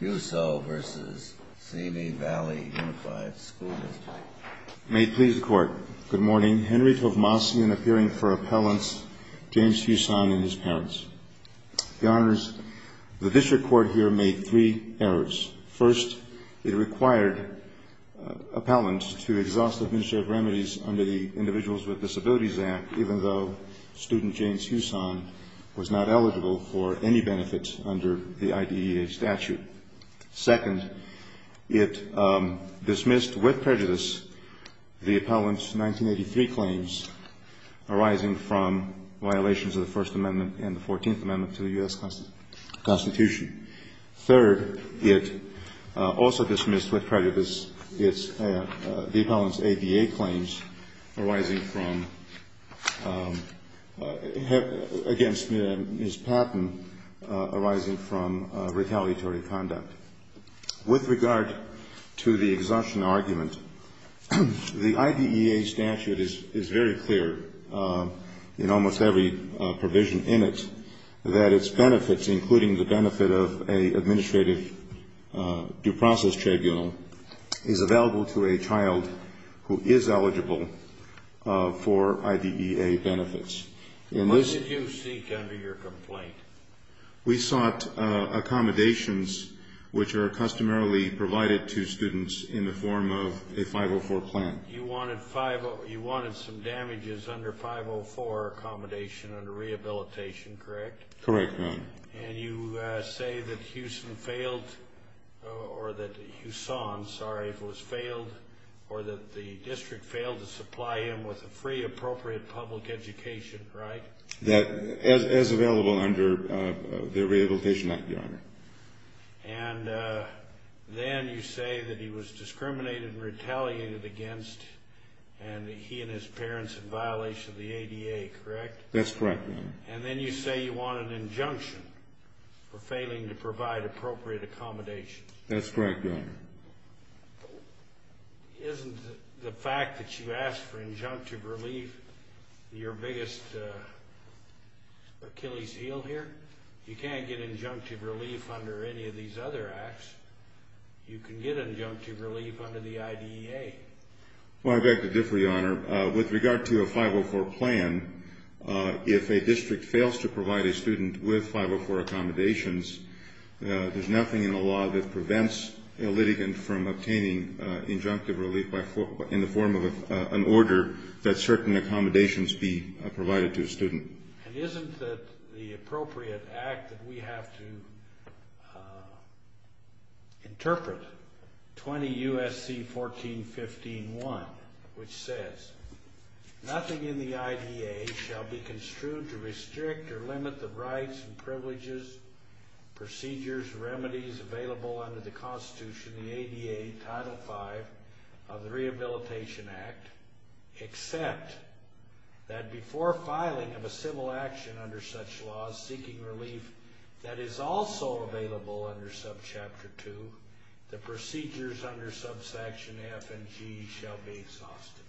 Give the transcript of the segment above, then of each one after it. Students. May it please the Court, good morning. Henry Tovmassian appearing for appellants, James Husson and his parents. Your Honors, the district court here made three errors. First, it required appellants to exhaust administrative remedies under the Individuals with Disabilities Act even though student James Husson was not eligible for any benefits under the IDEA statute. Second, it dismissed with prejudice the appellant's 1983 claims arising from violations of the First Amendment and the Fourteenth Amendment to the U.S. Constitution. Third, it also dismissed with prejudice the appellant's ADA claims arising from, against Ms. Patton, arising from retaliatory conduct. With regard to the exhaustion argument, the IDEA statute is very clear in almost every provision in it that its benefits, including the benefit of an administrative due process tribunal, is available to a child who is eligible for IDEA benefits. What did you seek under your complaint? We sought accommodations which are customarily provided to students in the form of a 504 plan. You wanted some damages under 504 accommodation under rehabilitation, correct? Correct, ma'am. And you say that Husson failed, or that the district failed to supply him with a free appropriate public education, right? Yes, as available under the rehabilitation of the owner. And then you say that he was discriminated and retaliated against and that he and his parents had violations of the ADA, correct? That's correct, ma'am. And then you say you want an injunction for failing to provide appropriate accommodations. That's correct, Your Honor. Isn't the fact that you asked for injunctive relief your biggest Achilles heel here? You can't get injunctive relief under any of these other acts. You can get injunctive relief under the IDEA. Well, I beg to differ, Your Honor. With regard to a 504 plan, if a district fails to provide a student with 504 accommodations, there's nothing in the law that prevents a litigant from obtaining injunctive relief in the form of an order that certain accommodations be provided to a student. And isn't that the appropriate act that we have to interpret, 20 U.S.C. 1415.1, which says, nothing in the IDEA shall be construed to restrict or limit the rights and privileges, procedures, and remedies available under the Constitution in the ADA Title V of the Rehabilitation Act, except that before filing of a civil action under such laws seeking relief that is also available under Subchapter 2, the procedures under Subsection F and G shall be exhausted.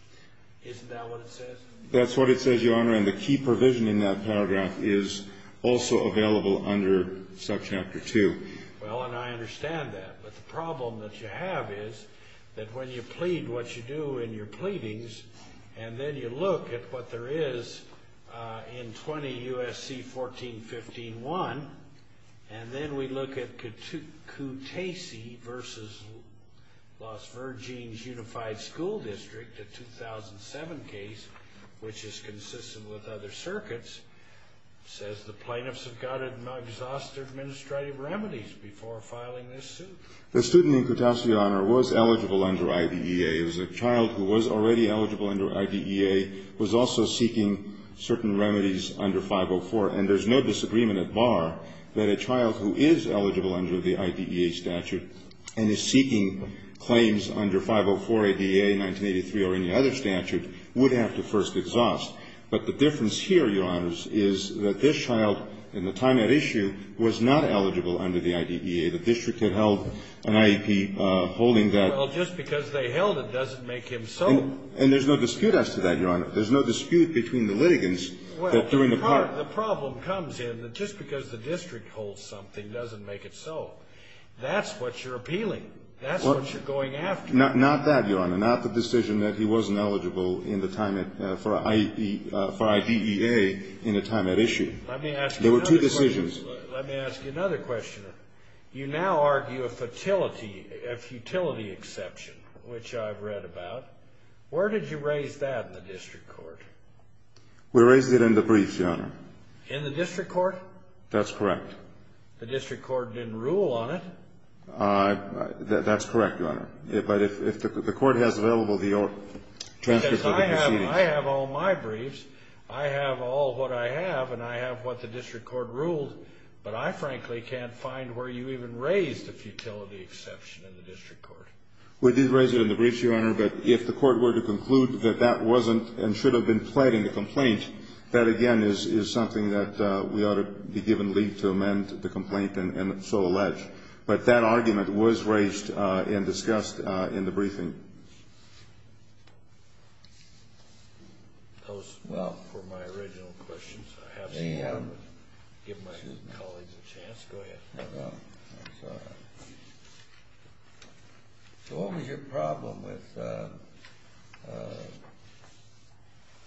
Isn't that what it says? That's what it says, Your Honor, and the key provision in that paragraph is also available under Subchapter 2. Well, and I understand that. But the problem that you have is that when you plead what you do in your pleadings, and then you look at what there is in 20 U.S.C. 1415.1, and then we look at Kutaisi v. Las Vergenes Unified School District, the 2007 case, which is consistent with other circuits, says the plaintiffs have got to exhaust their administrative remedies before filing this suit. The student in Kutaisi, Your Honor, was eligible under IDEA. As a child who was already eligible under IDEA was also seeking certain remedies under 504, and there's no disagreement at bar that a child who is eligible under the IDEA statute and is seeking claims under 504, IDEA, 1983, or any other statute would have to first exhaust. But the difference here, Your Honor, is that this child in the time at issue was not eligible under the IDEA. The district had held an IEP holding that. Well, just because they held it doesn't make him so. And there's no dispute as to that, Your Honor. There's no dispute between the litigants that during the process. The problem comes in that just because the district holds something doesn't make it so. That's what you're appealing. That's what you're going after. Not that, Your Honor, not the decision that he wasn't eligible for IDEA in the time at issue. There were two decisions. Let me ask you another question. You now argue a futility exception, which I've read about. Where did you raise that in the district court? We raised it in the brief, Your Honor. In the district court? That's correct. The district court didn't rule on it. That's correct, Your Honor. But if the court has available the chances of it proceeding. I have all my briefs. I have all what I have, and I have what the district court ruled. But I frankly can't find where you even raised a futility exception in the district court. We did raise it in the brief, Your Honor. But if the court were to conclude that that wasn't and should have been fled in the complaint, that, again, is something that we ought to be given leave to amend the complaint and so allege. But that argument was raised and discussed in the briefing. Those were my original questions. I have to give my colleagues a chance. Go ahead. So what was your problem with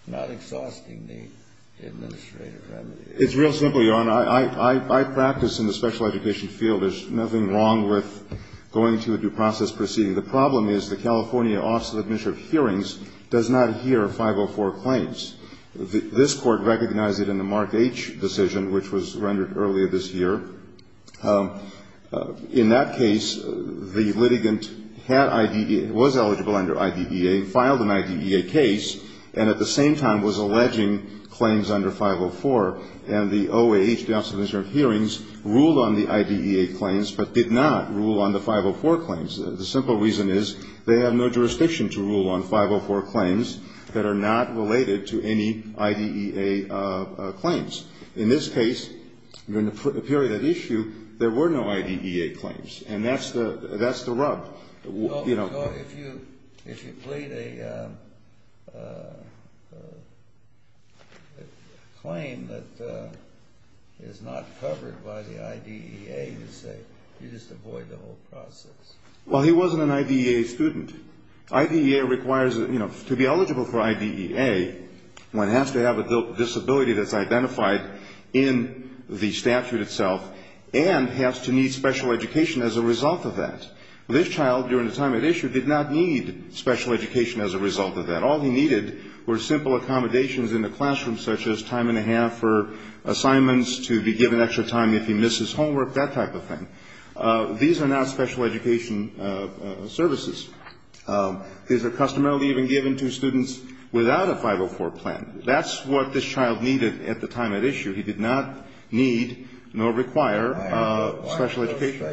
not exhausting the administrative remedy? It's real simple, Your Honor. I practice in the special education field. There's nothing wrong with going through the due process proceeding. The problem is the California Office of Administrative Hearings does not hear 504 claims. This court recognized it in the Mark H. decision, which was rendered earlier this year. In that case, the litigant was eligible under IDEA and filed an IDEA case and at the same time was alleging claims under 504, and the OAH, the Office of Administrative Hearings, ruled on the IDEA claims but did not rule on the 504 claims. The simple reason is they have no jurisdiction to rule on 504 claims that are not related to any IDEA claims. In this case, during the period at issue, there were no IDEA claims, and that's the rub. So if you plead a claim that is not covered by the IDEA, you just avoid the whole process? Well, he wasn't an IDEA student. IDEA requires, you know, to be eligible for IDEA, one has to have a disability that's identified in the statute itself and has to need special education as a result of that. This child, during the time at issue, did not need special education as a result of that. All he needed were simple accommodations in the classroom, such as time and a half for assignments, to be given extra time if he misses homework, that type of thing. These are not special education services. Is it customarily even given to students without a 504 plan? That's what this child needed at the time at issue. He did not need nor require special education.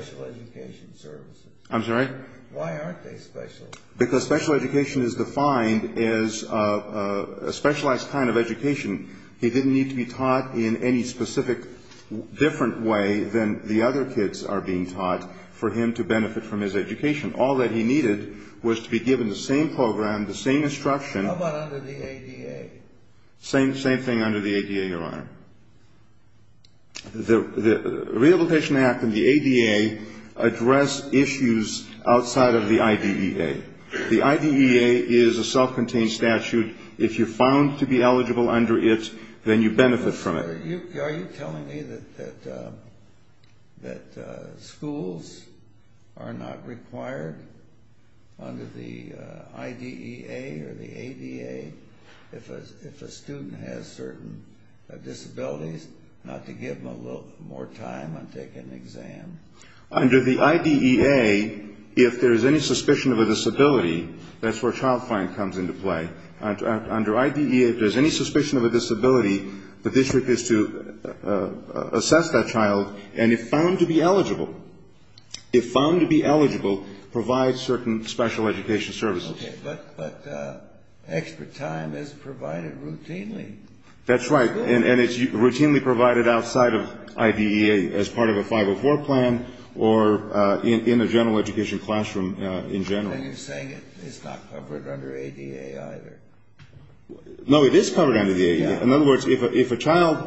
I'm sorry? Why aren't they special? Because special education is defined as a specialized kind of education. He didn't need to be taught in any specific different way than the other kids are being taught for him to benefit from his education. All that he needed was to be given the same program, the same instruction. How about under the ADA? Same thing under the ADA, Your Honor. The Rehabilitation Act and the ADA address issues outside of the IDEA. The IDEA is a self-contained statute. If you're found to be eligible under it, then you benefit from it. Are you telling me that schools are not required under the IDEA or the ADA if a student has certain disabilities, not to give them a little more time on taking an exam? Under the IDEA, if there's any suspicion of a disability, that's where a child plan comes into play. Under IDEA, if there's any suspicion of a disability, the district is to assess that child and if found to be eligible, provide certain special education services. Okay, but extra time is provided routinely. That's right, and it's routinely provided outside of IDEA as part of a 504 plan or in the general education classroom in general. And you're saying it's not covered under ADA either. No, it is covered under the ADA. In other words, if a child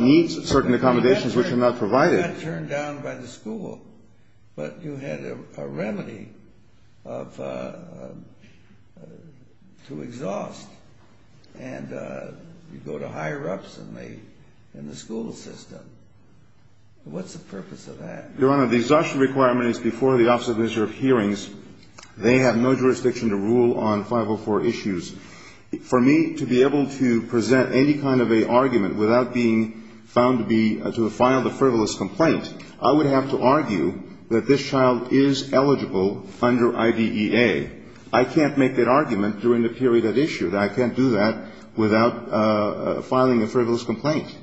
needs certain accommodations which are not provided. They're not turned down by the school, but you had a remedy to exhaust and you go to higher-ups in the school system. What's the purpose of that? Your Honor, the exhaustion requirement is before the Office of Administrative Hearings. They have no jurisdiction to rule on 504 issues. For me to be able to present any kind of an argument without being found to have filed a frivolous complaint, I would have to argue that this child is eligible under IDEA. I can't make that argument during the period at issue. I can't do that without filing a frivolous complaint.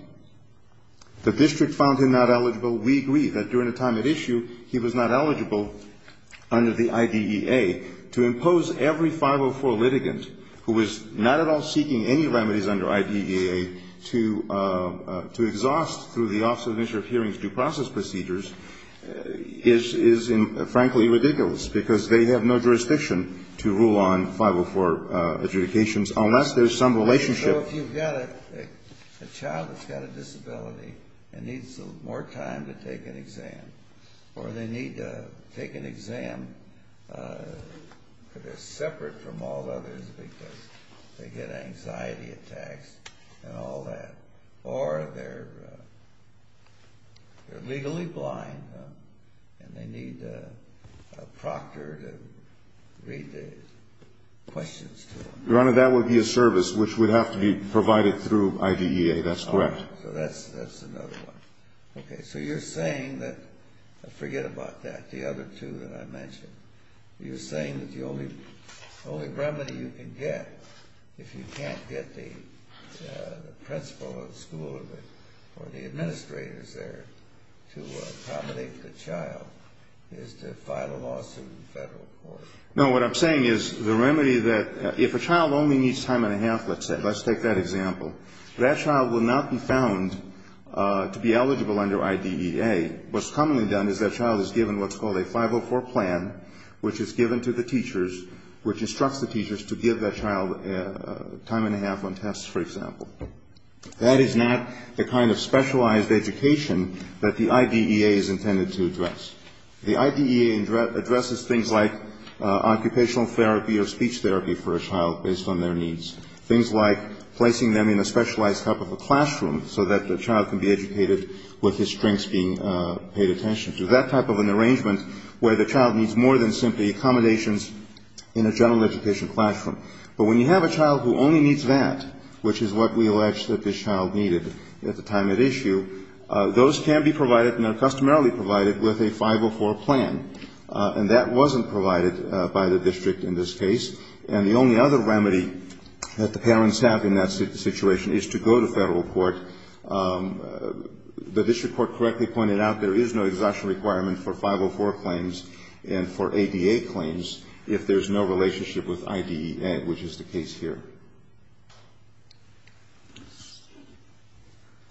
The district found him not eligible. We agree that during the time at issue, he was not eligible under the IDEA. To impose every 504 litigant who was not at all seeking any remedies under IDEA to exhaust through the Office of Administrative Hearings due process procedures is frankly ridiculous because they have no jurisdiction to rule on 504 adjudications unless there's some relationship. So if you've got a child that's got a disability and needs more time to take an exam or they need to take an exam because they're separate from all others because they get anxiety attacks and all that, or they're legally blind and they need a proctor to read the questions to them. Your Honor, that would be a service which would have to be provided through IDEA. That's correct. So that's another one. Okay. So you're saying that, forget about that, the other two that I mentioned. You're saying that the only remedy you can get, if you can't get the principal of the school or the administrators there to accommodate the child, is to file a lawsuit in federal court. No, what I'm saying is the remedy that if a child only needs time and a half, let's take that example, that child will not be found to be eligible under IDEA. What's commonly done is that child is given what's called a 504 plan, which is given to the teachers which instructs the teachers to give that child time and a half on tests, for example. That is not the kind of specialized education that the IDEA is intended to address. The IDEA addresses things like occupational therapy or speech therapy for a child based on their needs, things like placing them in a specialized type of a classroom so that the child can be educated with his strengths being paid attention to, that type of an arrangement where the child needs more than simply accommodations in a general education classroom. But when you have a child who only needs that, which is what we allege that this child needed at the time at issue, those can be provided and are customarily provided with a 504 plan. And that wasn't provided by the district in this case. And the only other remedy that the parents have in that situation is to go to federal court. The district court correctly pointed out there is no exhaustion requirement for 504 claims and for ADA claims if there's no relationship with IDEA, which is the case here.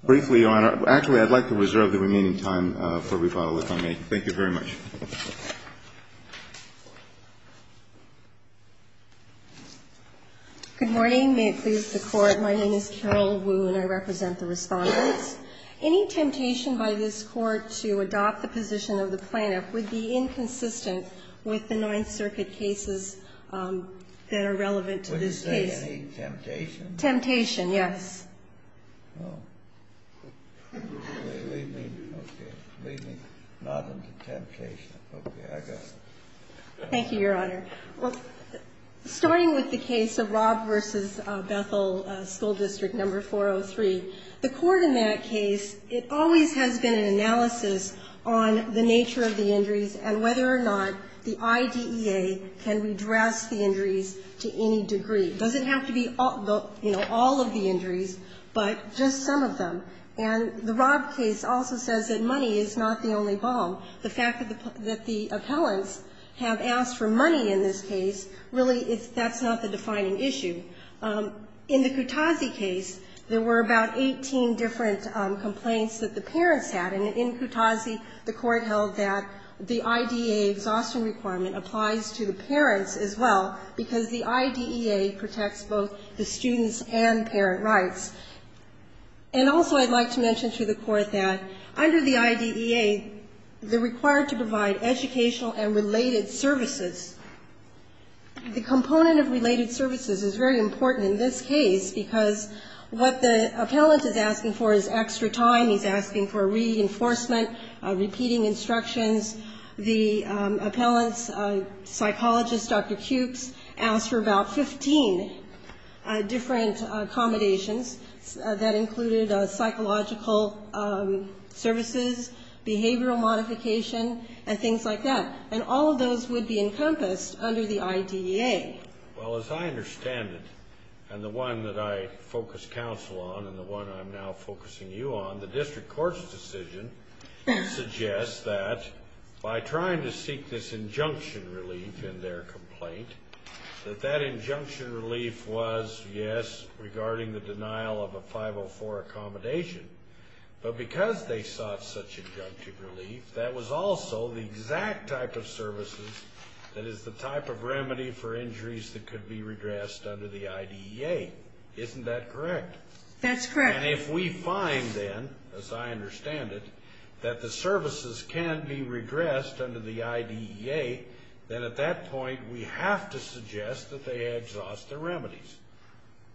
Briefly, I'd like to reserve the remaining time for rebuttal if I may. Thank you very much. Good morning. May it please the Court, my name is Carol Wu and I represent the respondents. Any temptation by this Court to adopt the position of the plaintiff would be inconsistent with the Ninth Circuit cases that are relevant to this case. Any temptation? Temptation, yes. Thank you, Your Honor. Starting with the case of Rob versus Bethel, school district number 403, the court in that case, it always has been an analysis on the nature of the injuries and whether or not the IDEA can redress the injuries to any degree. It doesn't have to be all of the injuries, but just some of them. And the Rob case also says that money is not the only ball. The fact that the appellants have asked for money in this case, really, that's not the defining issue. In the Kutazi case, there were about 18 different complaints that the parents had. And in Kutazi, the court held that the IDEA exhaustion requirement applies to the parents as well because the IDEA protects both the students and parent rights. And also, I'd like to mention to the court that under the IDEA, they're required to provide educational and related services. The component of related services is very important in this case because what the appellant is asking for is extra time. He's asking for reinforcement, repeating instructions. And the appellant's psychologist, Dr. Cukes, asked for about 15 different accommodations that included psychological services, behavioral modification, and things like that. And all of those would be encompassed under the IDEA. Well, as I understand it, and the one that I focus counsel on and the one I'm now focusing you on, the district court's decision suggests that by trying to seek this injunction relief in their complaint, that that injunction relief was, yes, regarding the denial of a 504 accommodation. But because they sought such injunction relief, that was also the exact type of services that is the type of remedy for injuries that could be redressed under the IDEA. Isn't that correct? That's correct. And if we find then, as I understand it, that the services can be redressed under the IDEA, then at that point we have to suggest that they exhaust the remedies.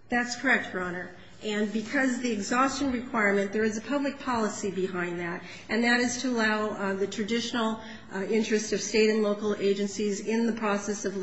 That's correct, Your Honor. And because the exhaustion requirement, there is a public policy behind that, and that is to allow the traditional interest of state and local agencies in the process of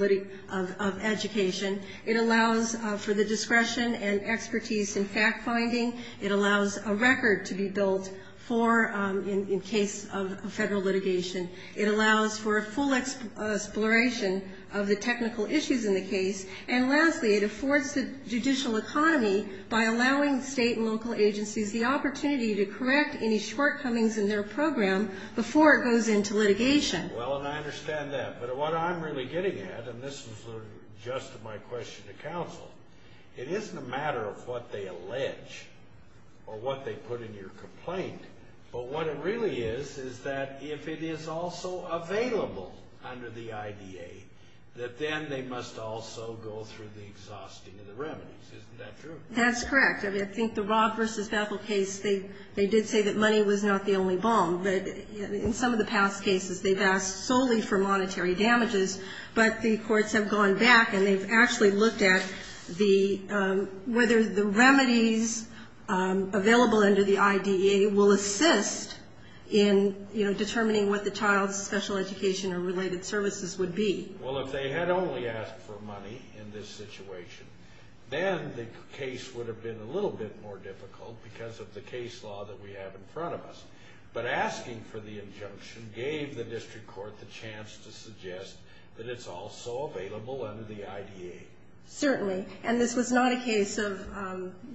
education. It allows for the discretion and expertise in fact-finding. It allows a record to be built in case of federal litigation. It allows for a full exploration of the technical issues in the case. And lastly, it affords the judicial economy by allowing state and local agencies the opportunity to correct any shortcomings in their program before it goes into litigation. Well, and I understand that. But what I'm really getting at, and this is sort of just my question to counsel, it isn't a matter of what they allege or what they put in your complaint, but what it really is is that if it is also available under the IDEA, that then they must also go through the exhausting of the remedies. Isn't that true? That's correct. And I think the Rob versus Ethel case, they did say that money was not the only bomb. In some of the past cases, they've asked solely for monetary damages, but the courts have gone back and they've actually looked at whether the remedies available under the IDEA will assist in determining what the child's special education or related services would be. Well, if they had only asked for money in this situation, then the case would have been a little bit more difficult because of the case law that we have in front of us. But asking for the injunction gave the district court the chance to suggest that it's also available under the IDEA. Certainly. And this was not a case of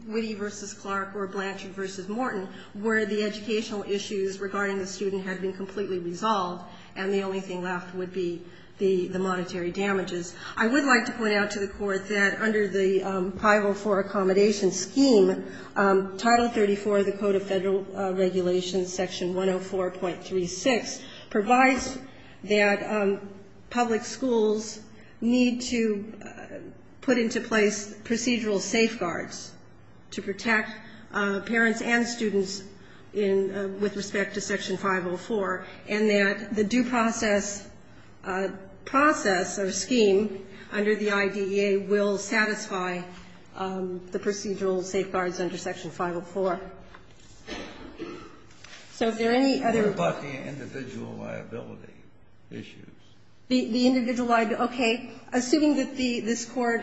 Whitty versus Clark or Blanchard versus Morton, where the educational issues regarding the student had been completely resolved and the only thing left would be the monetary damages. I would like to point out to the court that under the Prival for Accommodation Scheme, Title 34 of the Code of Federal Regulations, Section 104.36, provides that public schools need to put into place procedural safeguards to protect parents and students with respect to Section 504, and that the due process or scheme under the IDEA will satisfy the procedural safeguards under Section 504. So is there any other... What about the individual liability issues? The individual liability, okay. Assuming that this court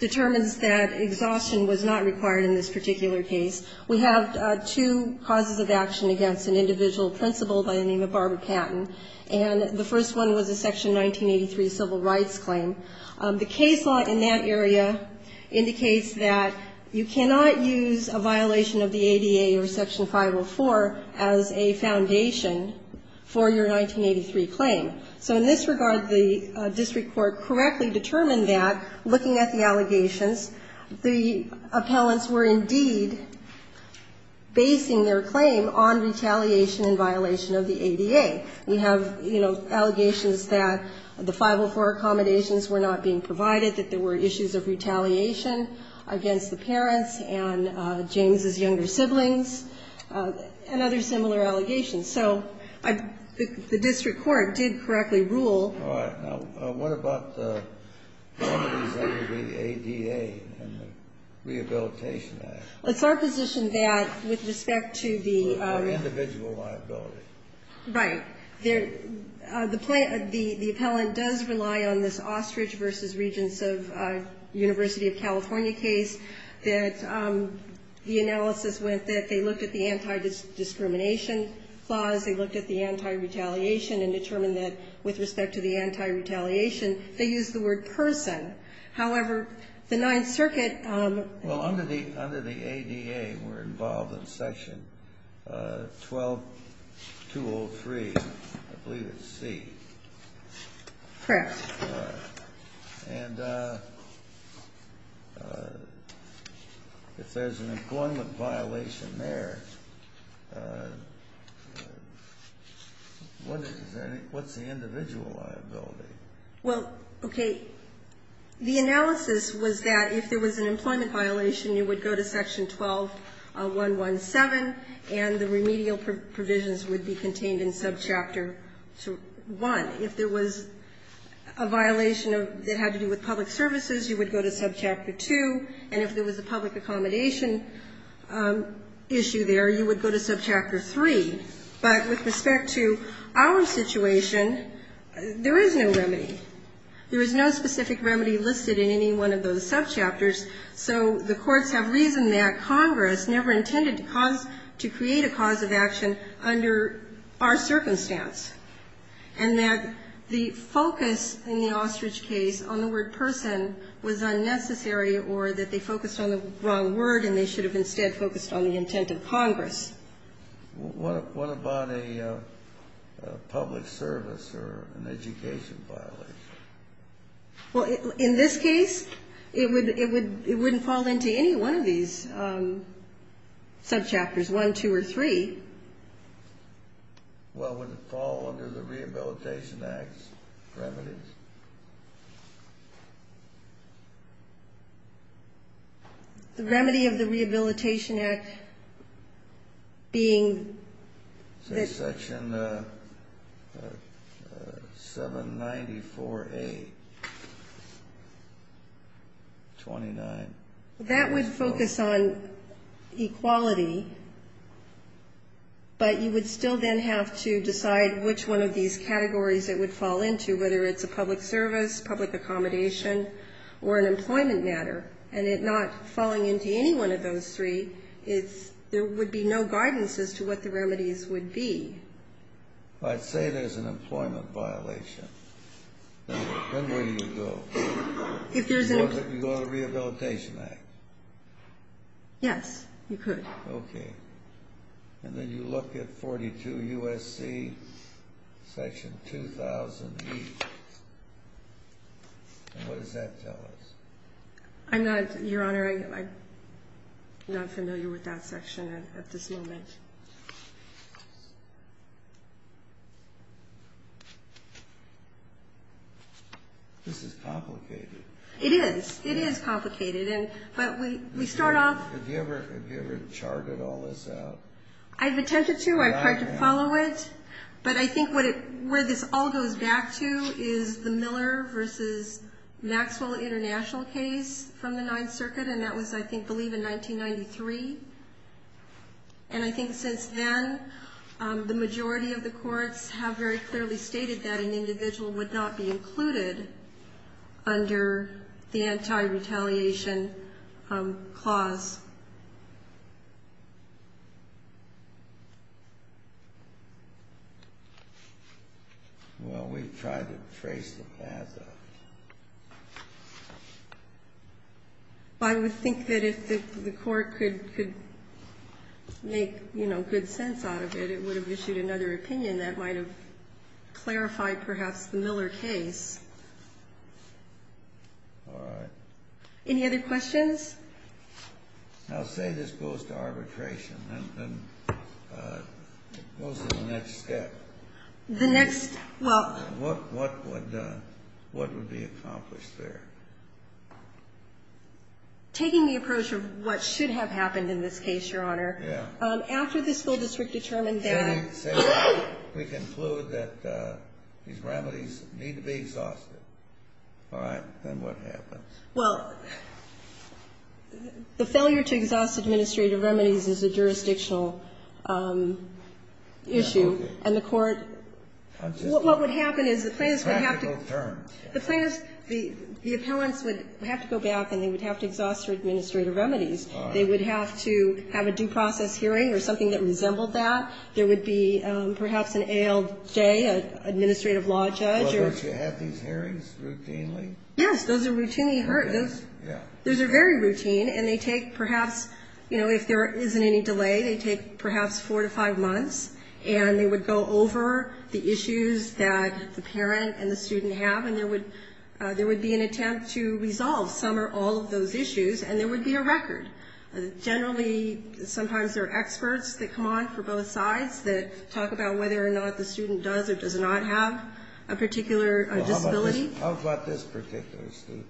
determines that exhaustion was not required in this particular case, we have two causes of action against an individual principal by the name of Barbara Catton. And the first one was the Section 1983 Civil Rights Claim. The case law in that area indicates that you cannot use a violation of the ADA or Section 504 as a foundation for your 1983 claim. So in this regard, the district court correctly determined that, looking at the allegations, the appellants were indeed basing their claim on retaliation in violation of the ADA. We have, you know, allegations that the 504 accommodations were not being provided, that there were issues of retaliation against the parents and James' younger siblings, and other similar allegations. So the district court did correctly rule... All right. What about the ADA and the Rehabilitation Act? Let's opposition that with respect to the... Individual liability. Right. The appellant does rely on this Ostrich v. Regents of University of California case that the analysis was that they looked at the anti-discrimination laws, they looked at the anti-retaliation and determined that, with respect to the anti-retaliation, they used the word person. However, the Ninth Circuit... Well, under the ADA, we're involved in Section 1203, I believe it's C. Correct. And if there's an employment violation there, what's the individual liability? Well, okay, the analysis was that if there was an employment violation, you would go to Section 12117, and the remedial provisions would be contained in Subchapter 1. If there was a violation that had to do with public services, you would go to Subchapter 2, and if there was a public accommodation issue there, you would go to Subchapter 3. But with respect to our situation, there is no remedy. There is no specific remedy listed in any one of those subchapters, so the courts have reasoned that Congress never intended to create a cause of action under our circumstance, and that the focus in the ostrich case on the word person was unnecessary, or that they focused on the wrong word and they should have instead focused on the intent of Congress. What about a public service or an education violation? Well, in this case, it wouldn't fall into any one of these subchapters, 1, 2, or 3. Well, would it fall under the Rehabilitation Act's remedies? The remedy of the Rehabilitation Act being... Section 794A, 29. That would focus on equality, but you would still then have to decide which one of these categories it would fall into, whether it's a public service, public accommodation, or an employment matter. And it not falling into any one of those three, there would be no guidance as to what the remedies would be. I'd say there's an employment violation. Now, where would you go? If there's a... You'd go to the Rehabilitation Act. Yes, you could. Okay. And then you look at 42 U.S.C., Section 2008. And what does that tell us? Your Honor, I'm not familiar with that section at this moment. This is complicated. It is. It is complicated. But we sort of... Have you ever charted all this out? I've attempted to. I've tried to follow it. But I think where this all goes back to is the Miller v. Maxwell International case from the Ninth Circuit, and that was, I think, I believe in 1993. And I think since then, the majority of the courts have very clearly stated that an individual would not be included under the Anti-Retaliation Clause. Well, we've tried to trace it back. I would think that if the court could make, you know, good sense out of it, it would have issued another opinion that might have clarified perhaps the Miller case. All right. Any other questions? Now, say this goes to arbitration. And what's the next step? The next... Well... What would be accomplished there? Taking the approach of what should have happened in this case, Your Honor. Yeah. After the school district determined that... Then we conclude that these remedies need to be exhausted. All right. Then what happens? Well, the failure to exhaust administrative remedies is a jurisdictional issue. And the court... What would happen is the plaintiffs would have to... The plaintiffs... The appellants would have to go back and they would have to exhaust their administrative remedies. They would have to have a due process hearing or something that resembled that. There would be perhaps an ALJ, an administrative law judge or... Well, don't you have these hearings routinely? Yes, those are routinely heard. Those are very routine and they take perhaps, you know, if there isn't any delay, they take perhaps four to five months. And they would go over the issues that the parent and the student have and there would be an attempt to resolve some or all of those issues and there would be a record. Generally, sometimes there are experts that come on for both sides that talk about whether or not the student does or does not have a particular disability. How about this particular student?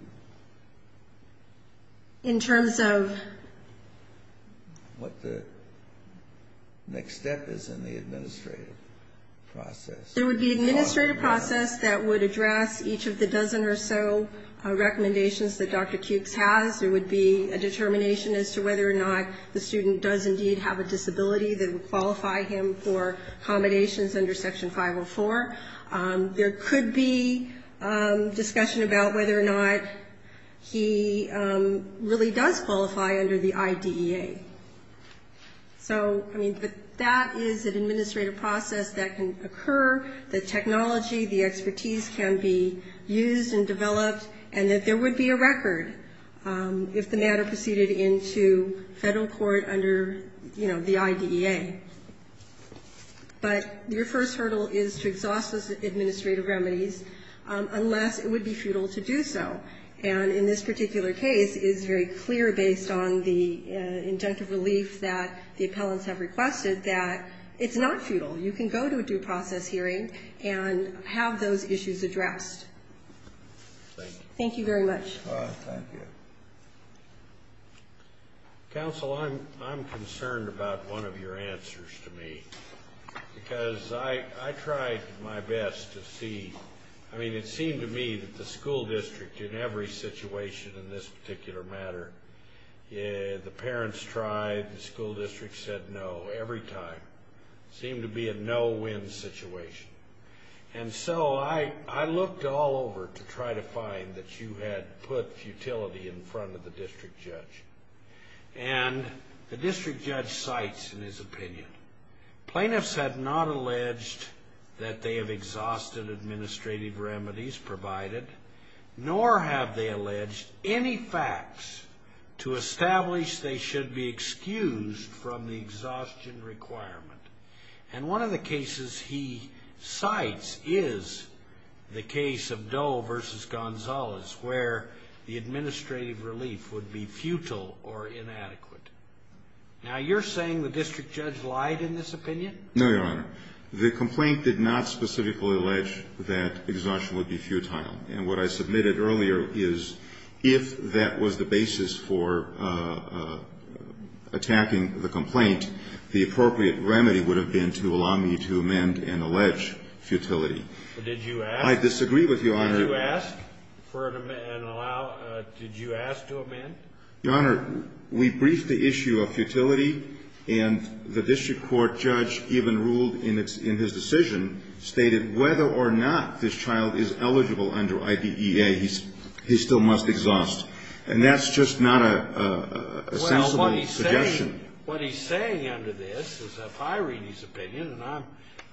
In terms of... What the next step is in the administrative process? There would be an administrative process that would address each of the dozen or so recommendations that Dr. Cukes has. There would be a determination as to whether or not the student does indeed have a disability that would qualify him for accommodations under Section 504. There could be discussion about whether or not he really does qualify under the IDEA. So, I mean, that is an administrative process that can occur. The technology, the expertise can be used and developed and that there would be a record if the matter proceeded into federal court under, you know, the IDEA. But your first hurdle is to exhaust this administrative remedy unless it would be futile to do so. And in this particular case, it's very clear based on the intent of the leaf that the appellants have requested that it's not futile. You can go to a due process hearing and have those issues addressed. Thank you very much. Thank you. Counsel, I'm concerned about one of your answers to me because I tried my best to see. I mean, it seemed to me that the school district in every situation in this particular matter, the parents tried, the school district said no every time. It seemed to be a no-win situation. And so, I looked all over to try to find that you had put utility in front of the district judge. And the district judge cites in his opinion, plaintiffs have not alleged that they have exhausted administrative remedies provided, nor have they alleged any facts to establish they should be excused from the exhaustion requirement. And one of the cases he cites is the case of Doe v. Gonzalez where the administrative relief would be futile or inadequate. Now, you're saying the district judge lied in this opinion? No, Your Honor. The complaint did not specifically allege that exhaustion would be futile. And what I submitted earlier is if that was the basis for attacking the complaint, the appropriate remedy would have been to allow me to amend and allege futility. Did you ask? I disagree with Your Honor. Did you ask to amend? Your Honor, we briefed the issue of futility and the district court judge even ruled in his decision, stated whether or not this child is eligible under IDEA, he still must exhaust. And that's just not a sensible objection. What he's saying under this is that if I read his opinion, and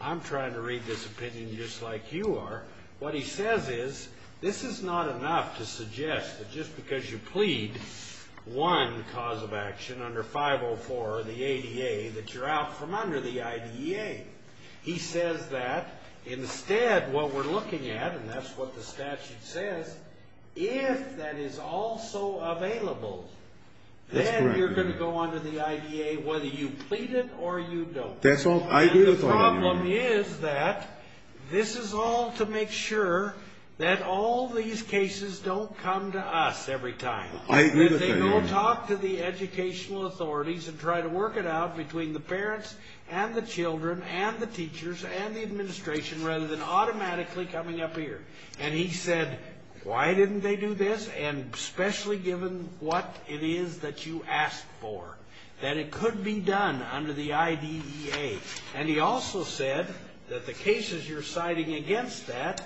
I'm trying to read this opinion just like you are, what he says is this is not enough to suggest that just because you plead one cause of action under 504 or the ADA that you're out from under the IDEA. He says that instead what we're looking at, and that's what the statute says, if that is also available, then you're going to go under the IDEA whether you plead it or you don't. That's all I agree with Your Honor. And the problem is that this is all to make sure that all these cases don't come to us every time. I agree with Your Honor. They will talk to the educational authorities and try to work it out between the parents and the children and the teachers and the administration rather than automatically coming up here. And he said, why didn't they do this? And especially given what it is that you asked for, that it could be done under the IDEA. And he also said that the cases you're citing against that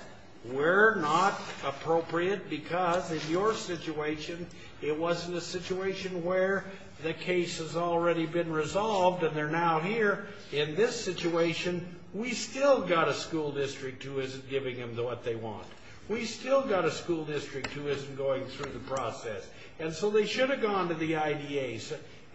were not appropriate because in your situation, it wasn't a situation where the case has already been resolved and they're now here. In this situation, we still got a school district who isn't giving them what they want. We still got a school district who isn't going through the process. And so they should have gone to the IDEA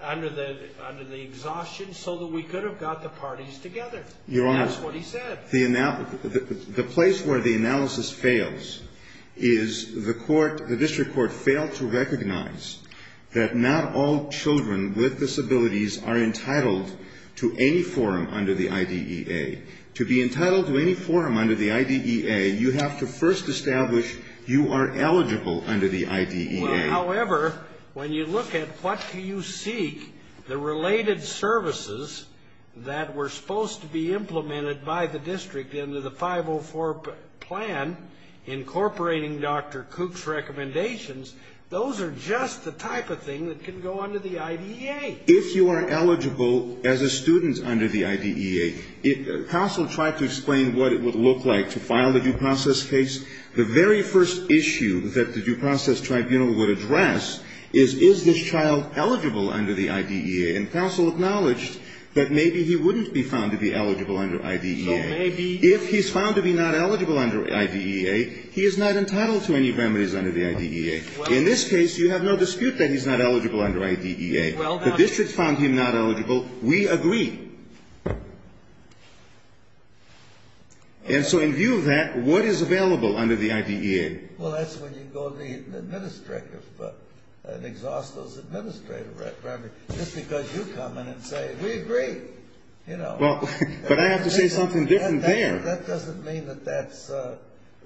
under the exhaustion so that we could have got the parties together. That's what he said. The place where the analysis fails is the court, the district court, failed to recognize that not all children with disabilities are entitled to any forum under the IDEA. To be entitled to any forum under the IDEA, you have to first establish you are eligible under the IDEA. However, when you look at what you see, the related services that were supposed to be implemented by the district into the 504 plan, incorporating Dr. Cooke's recommendations, those are just the type of thing that can go under the IDEA. If you are eligible as a student under the IDEA, counsel tried to explain what it would look like to file the due process case. The very first issue that the due process tribunal would address is, is this child eligible under the IDEA? And counsel acknowledged that maybe he wouldn't be found to be eligible under IDEA. If he's found to be not eligible under IDEA, he is not entitled to any remedies under the IDEA. In this case, you have no dispute that he's not eligible under IDEA. But this should found him not eligible. We agree. And so in view of that, what is available under the IDEA? Well, that's when you go to the administrator's book and exhaust those administrative requirements. Just because you come in and say, we agree, you know. Well, but I have to say something different there. That doesn't mean that that's...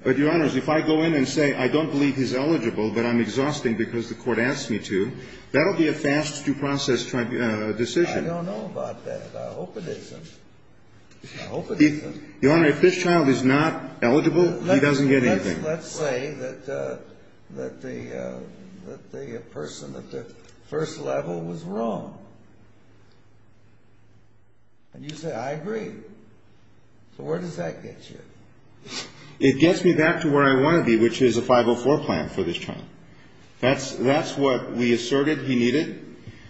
But, Your Honors, if I go in and say, I don't believe he's eligible, but I'm exhausting because the court asked me to, that'll be a fast due process decision. I don't know about that, Your Honors. I hope it isn't. I hope it isn't. Your Honor, if this child is not eligible, he doesn't get anything. Let's say that the person at the first level was wrong. And you say, I agree. So where does that get you? It gets me back to where I want to be, which is a 504 plan for this child. That's what we asserted he needed.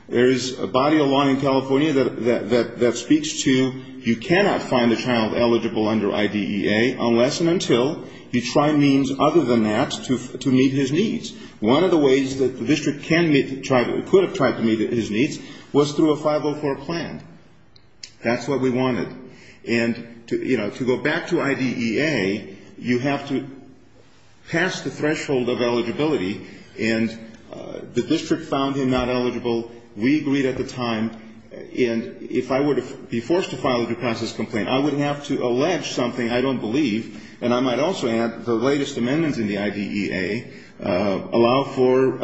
There is a body of law in California that speaks to you cannot find a child eligible under IDEA unless and until you try means other than that to meet his needs. One of the ways that the district could have tried to meet his needs was through a 504 plan. That's what we wanted. And, you know, to go back to IDEA, you have to pass the threshold of eligibility. And the district found him not eligible. We agreed at the time. And if I were to be forced to file a due process complaint, I would have to allege something I don't believe. And I might also add the latest amendment in the IDEA allowed for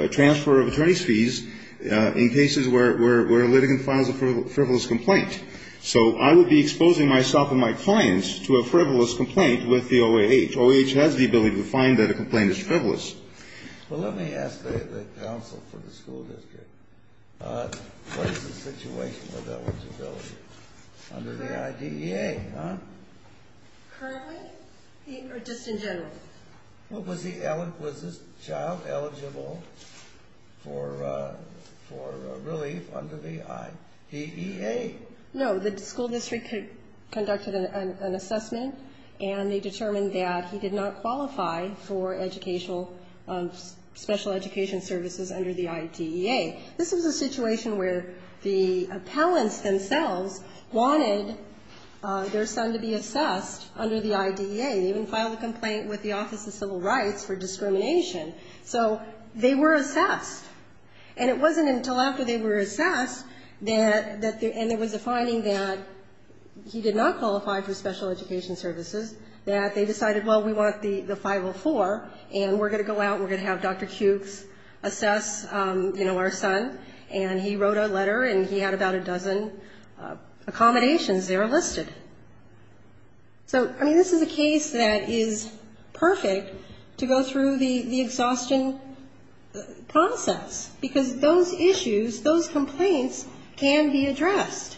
a transfer of trace fees in cases where a litigant files a frivolous complaint. So I would be exposing myself and my clients to a frivolous complaint with the OAH. The OAH has the ability to find that a complaint is frivolous. Well, let me ask the counsel for the school district. What is the situation of that one's ability under the IDEA? Currently or just in general? Was this child eligible for relief under the IDEA? No, the school district conducted an assessment. And they determined that he did not qualify for special education services under the IDEA. This is a situation where the appellants themselves wanted their son to be assessed under the IDEA. He didn't file a complaint with the Office of Civil Rights for discrimination. So they were assessed. And it wasn't until after they were assessed and it was defining that he did not qualify for special education services that they decided, well, we want the 504 and we're going to go out and we're going to have Dr. Cukes assess, you know, our son. And he wrote a letter and he had about a dozen accommodations there listed. So, I mean, this is a case that is perfect to go through the exhaustion process because those issues, those complaints can be addressed.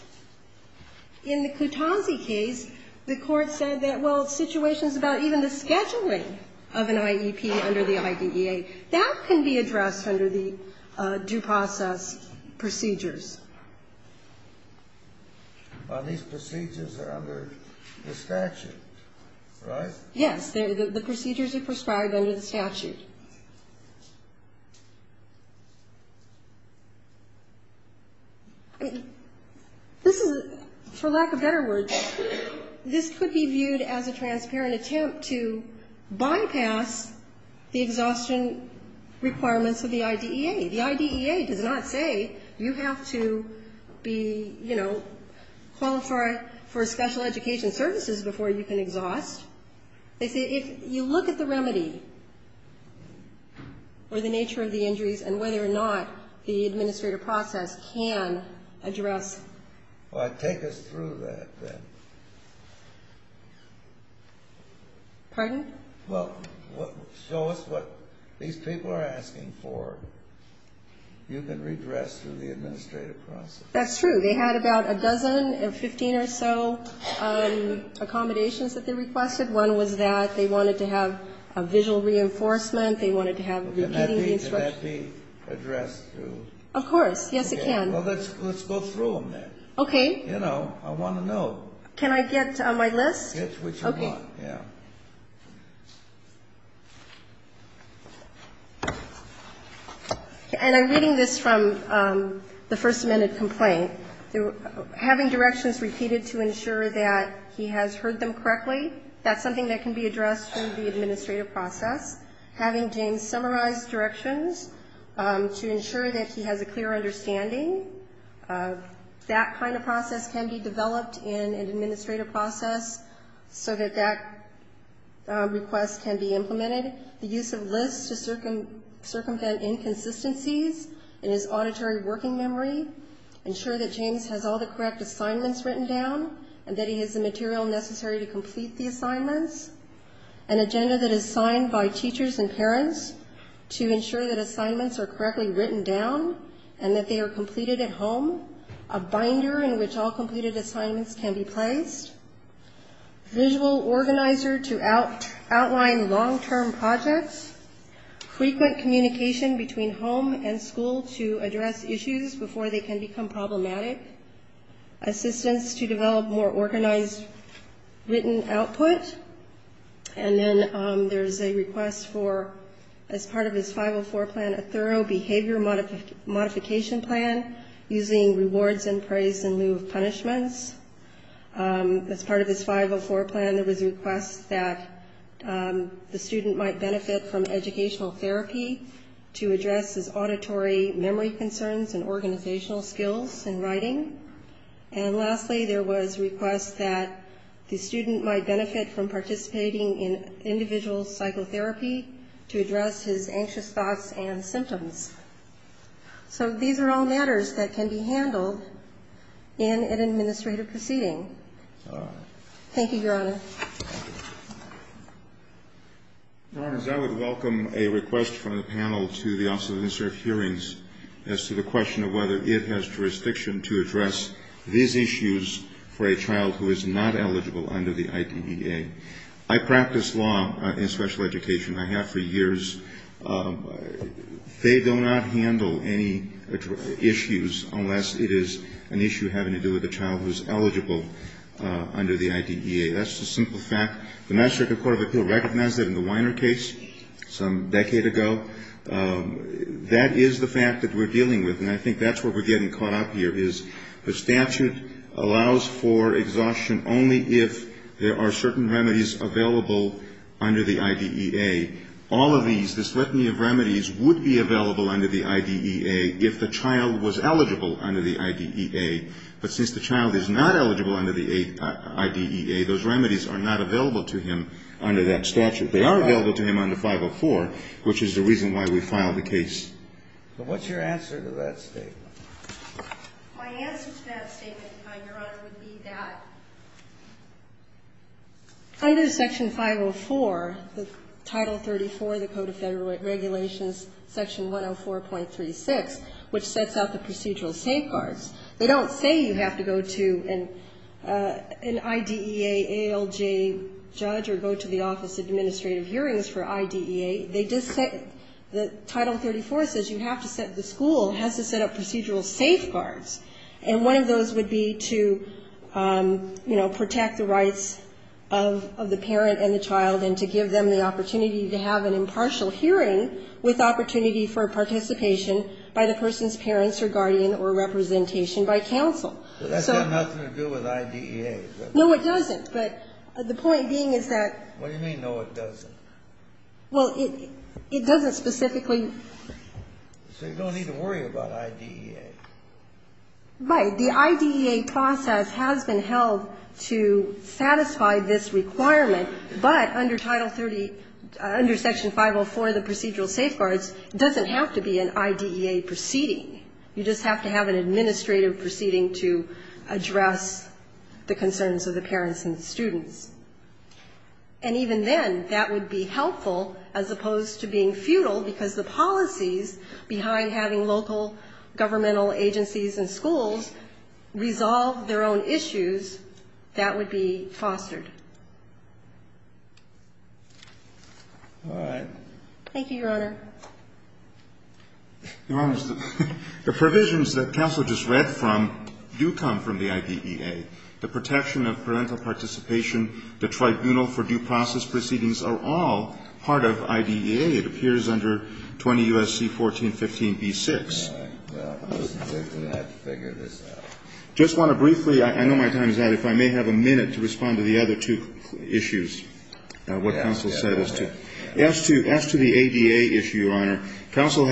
In the Kutonzi case, the court said that, well, situations about even the scheduling of an IEP under the IDEA, that can be addressed under the due process procedures. But these procedures are under the statute, right? Yes, the procedures are prescribed under the statute. This is, for lack of better words, this could be viewed as a transparent attempt to bypass the exhaustion requirements of the IDEA. The IDEA does not say you have to be, you know, qualify for special education services before you can exhaust. If you look at the remedy or the nature of the injuries and whether or not the administrative process can address. Well, take us through that then. Pardon? Well, show us what these people are asking for. You can redress through the administrative process. That's true. They had about a dozen and 15 or so accommodations that they requested. One was that they wanted to have a visual reinforcement. They wanted to have a repeating instruction. Can that be addressed through? Of course. Yes, it can. Well, let's go through them then. Okay. You know, I want to know. Can I get my list? Okay. And I'm reading this from the first minute complaint. Having directions repeated to ensure that he has heard them correctly, that's something that can be addressed through the administrative process. Having James summarize directions to ensure that he has a clear understanding. That kind of process can be developed in an administrative process so that that request can be implemented. The use of lists to circumvent inconsistencies in his auditory working memory. Ensure that James has all the correct assignments written down and that he has the material necessary to complete the assignments. An agenda that is signed by teachers and parents to ensure that assignments are correctly written down and that they are completed at home. A binder in which all completed assignments can be prized. Visual organizer to outline long-term projects. Frequent communication between home and school to address issues before they can become problematic. Assistance to develop more organized written output. And then there's a request for, as part of his 504 plan, a thorough behavior modification plan using rewards and praise in lieu of punishments. As part of his 504 plan, there was a request that the student might benefit from educational therapy to address his auditory memory concerns and organizational skills in writing. And lastly, there was a request that the student might benefit from participating in individual psychotherapy to address his anxious thoughts and symptoms. So these are all matters that can be handled in an administrative proceeding. Thank you, Your Honors. Your Honors, I would welcome a request from the panel to the Office of Administrative Hearings as to the question of whether it has jurisdiction to address these issues for a child who is not eligible under the IDEA. I practice law in special education. I have for years. They do not handle any issues unless it is an issue having to do with a child who is eligible under the IDEA. That's a simple fact. The National Court of Appeal recognized it in the Weiner case some decade ago. That is the fact that we're dealing with, and I think that's where we're getting caught up here, is the statute allows for exhaustion only if there are certain remedies available under the IDEA. All of these, this litany of remedies, would be available under the IDEA if the child was eligible under the IDEA. But since the child is not eligible under the IDEA, those remedies are not available to him under that statute. They are available to him under 504, which is the reason why we filed the case. So what's your answer to that statement? My answer to that statement, Your Honor, would be that under Section 504, Title 34 of the Code of Federal Regulations, Section 104.36, which sets out the procedural safeguards, they don't say you have to go to an IDEA ALJ judge or go to the Office of Administrative Hearings for IDEA. They just say that Title 34 says you have to set, the school has to set up procedural safeguards. And one of those would be to, you know, protect the rights of the parent and the child and to give them an opportunity to have an impartial hearing with opportunity for participation by the person's parents or guardian or representation by counsel. So that's got nothing to do with IDEA. No, it doesn't, but the point being is that... What do you mean, no, it doesn't? Well, it doesn't specifically... So you don't need to worry about IDEA. Right, the IDEA process has been held to satisfy this requirement. But under Title 30, under Section 504 of the procedural safeguards, it doesn't have to be an IDEA proceeding. You just have to have an administrative proceeding to address the concerns of the parents and the students. And even then, that would be helpful as opposed to being futile because the policies behind having local governmental agencies and schools resolve their own issues, that would be fostered. All right. Thank you, Your Honor. Your Honor, the provisions that counsel just read from do come from the IDEA. The protection of parental participation, the tribunal for due process proceedings are all part of IDEA. It appears under 20 U.S.C. 1415b-6. All right. Well, I wasn't waiting for that to figure this out. I just want to briefly... I know my time is out. If I may have a minute to respond to the other two issues, what counsel said as to... As to the ADA issue, Your Honor, counsel...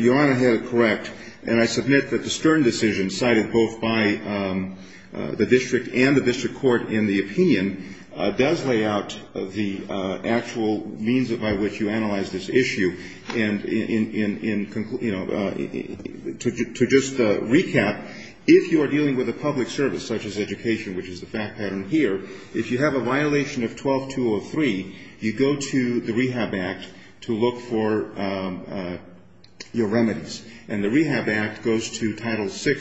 Your Honor has it correct, and I submit that the Stern decision, cited both by the district and the district court in the opinion, does lay out the actual means by which you analyze this issue. And to just recap, if you are dealing with a public service such as education, which is the fact pattern here, if you have a violation of 12203, you go to the Rehab Act to look for your remedies. And the Rehab Act goes to Title VI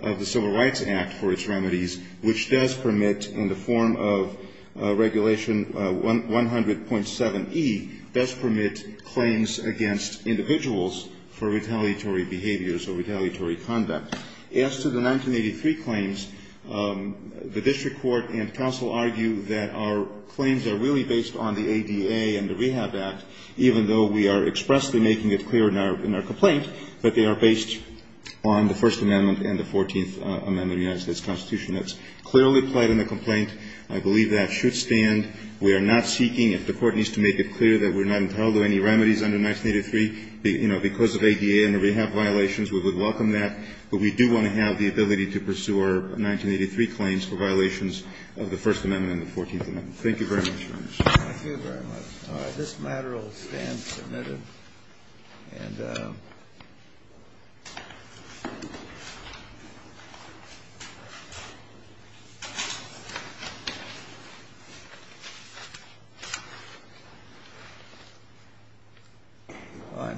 of the Civil Rights Act for its remedies, which does permit, in the form of Regulation 100.7e, does permit claims against individuals for retaliatory behaviors or retaliatory conduct. As to the 1983 claims, the district court and counsel argue that our claims are really based on the ADA and the Rehab Act, even though we are expressly making it clear in our complaint that they are based on the First Amendment and the Fourteenth Amendment of the United States Constitution. That's clearly played in the complaint. I believe that should stand. We are not seeking... If the court needs to make it clear that we're not entitled to any remedies under 1983 because of ADA and the Rehab violations, we would welcome that. But we do want to have the ability to pursue our 1983 claims for violations of the First Amendment and the Fourteenth Amendment. Thank you very much. Thank you very much. This matter will stand submitted.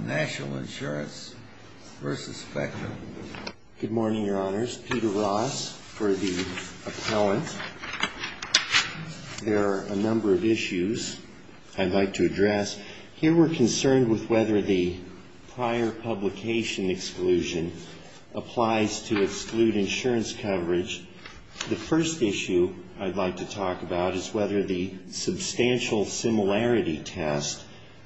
National Insurance v. Specter. Good morning, Your Honors. My name is Peter Ross for the appellant. There are a number of issues I'd like to address. Here we're concerned with whether the prior publication exclusion applies to exclude insurance coverage. The first issue I'd like to talk about is whether the substantial similarity test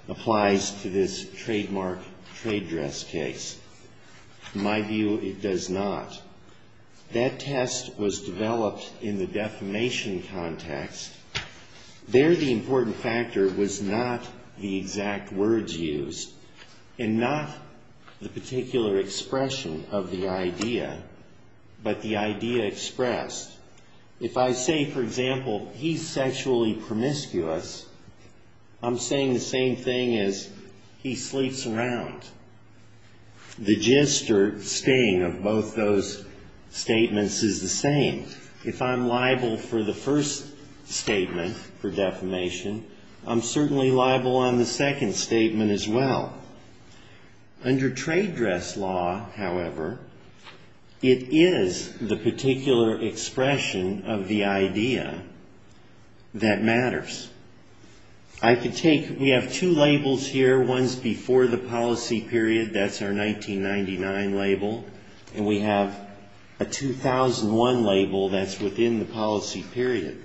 applies to this trademark trade dress case. In my view, it does not. That test was developed in the defamation context. There the important factor was not the exact words used and not the particular expression of the idea, but the idea expressed. If I say, for example, he's sexually promiscuous, I'm saying the same thing as he sleeps around. The gist or sting of both those statements is the same. If I'm liable for the first statement for defamation, I'm certainly liable on the second statement as well. Under trade dress law, however, it is the particular expression of the idea that matters. We have two labels here. One's before the policy period. That's our 1999 label, and we have a 2001 label that's within the policy period.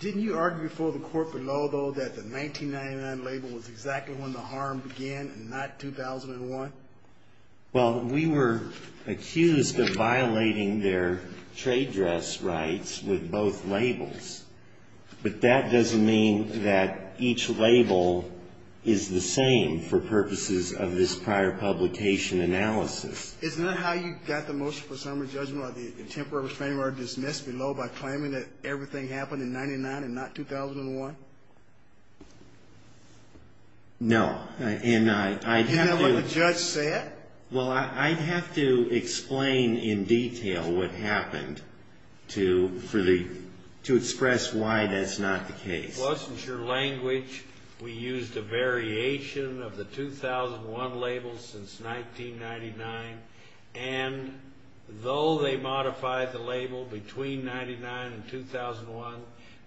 Didn't you argue for the corporate law, though, that the 1999 label was exactly when the harm began and not 2001? Well, we were accused of violating their trade dress rights with both labels. But that doesn't mean that each label is the same for purposes of this prior publication analysis. Isn't that how you got the motion for summary judgment or the temporary restraining order dismissed, below by claiming that everything happened in 1999 and not 2001? No. Didn't know what the judge said? Well, I'd have to explain in detail what happened to express why that's not the case. It wasn't your language. We used a variation of the 2001 label since 1999. And though they modified the label between 1999 and 2001,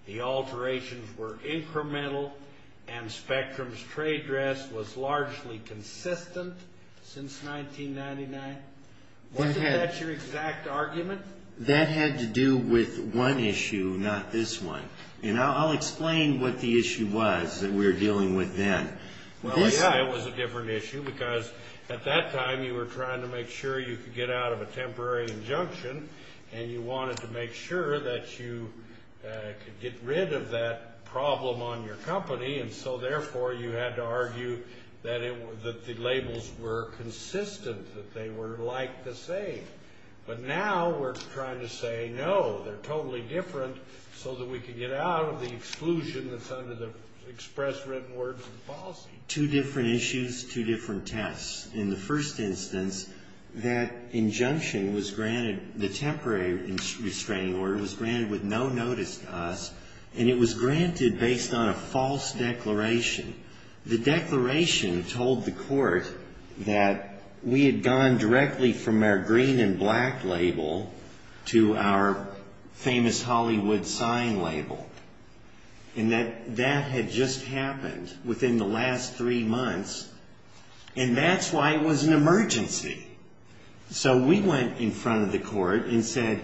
the alterations were incremental, and Spectrum's trade dress was largely consistent since 1999. Wasn't that your exact argument? That had to do with one issue, not this one. And I'll explain what the issue was that we were dealing with then. Well, yeah, it was a different issue, because at that time you were trying to make sure you could get out of a temporary injunction, and you wanted to make sure that you could get rid of that problem on your company, and so therefore you had to argue that the labels were consistent, that they were like the same. But now we're trying to say, no, they're totally different, so that we can get out of the exclusion that's under the express written words and policy. Two different issues, two different tests. In the first instance, that injunction was granted, the temporary restraining order was granted with no notice to us, and it was granted based on a false declaration. The declaration told the court that we had gone directly from our green and black label to our famous Hollywood sign label, and that that had just happened within the last three months. And that's why it was an emergency. So we went in front of the court and said,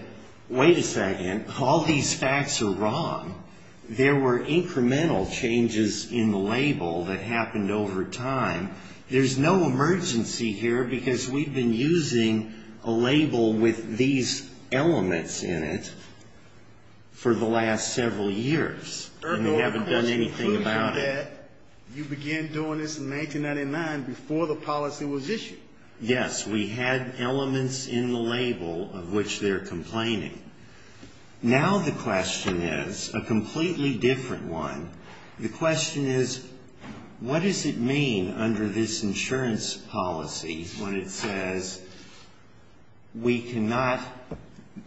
wait a second, all these facts are wrong. There were incremental changes in the label that happened over time. There's no emergency here, because we've been using a label with these elements in it for the last several years, and we haven't done anything about it. You began doing this in 1999, before the policy was issued. Yes, we had elements in the label of which they're complaining. Now the question is a completely different one. The question is, what does it mean under this insurance policy when it says, we cannot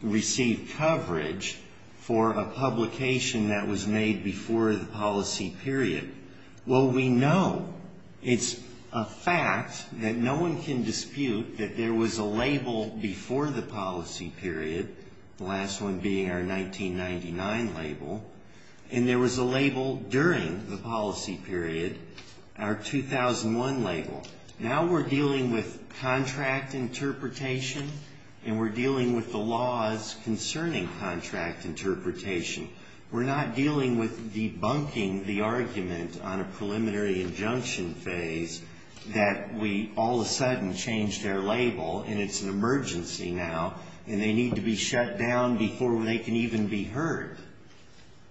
receive coverage for a publication that was made before the policy period? Well, we know. It's a fact that no one can dispute that there was a label before the policy period, the last one being our 1999 label, and there was a label during the policy period, our 2001 label. Now we're dealing with contract interpretation, and we're dealing with the laws concerning contract interpretation. We're not dealing with debunking the argument on a preliminary injunction phase that we all of a sudden changed their label, and it's an emergency now, and they need to be shut down before they can even be heard,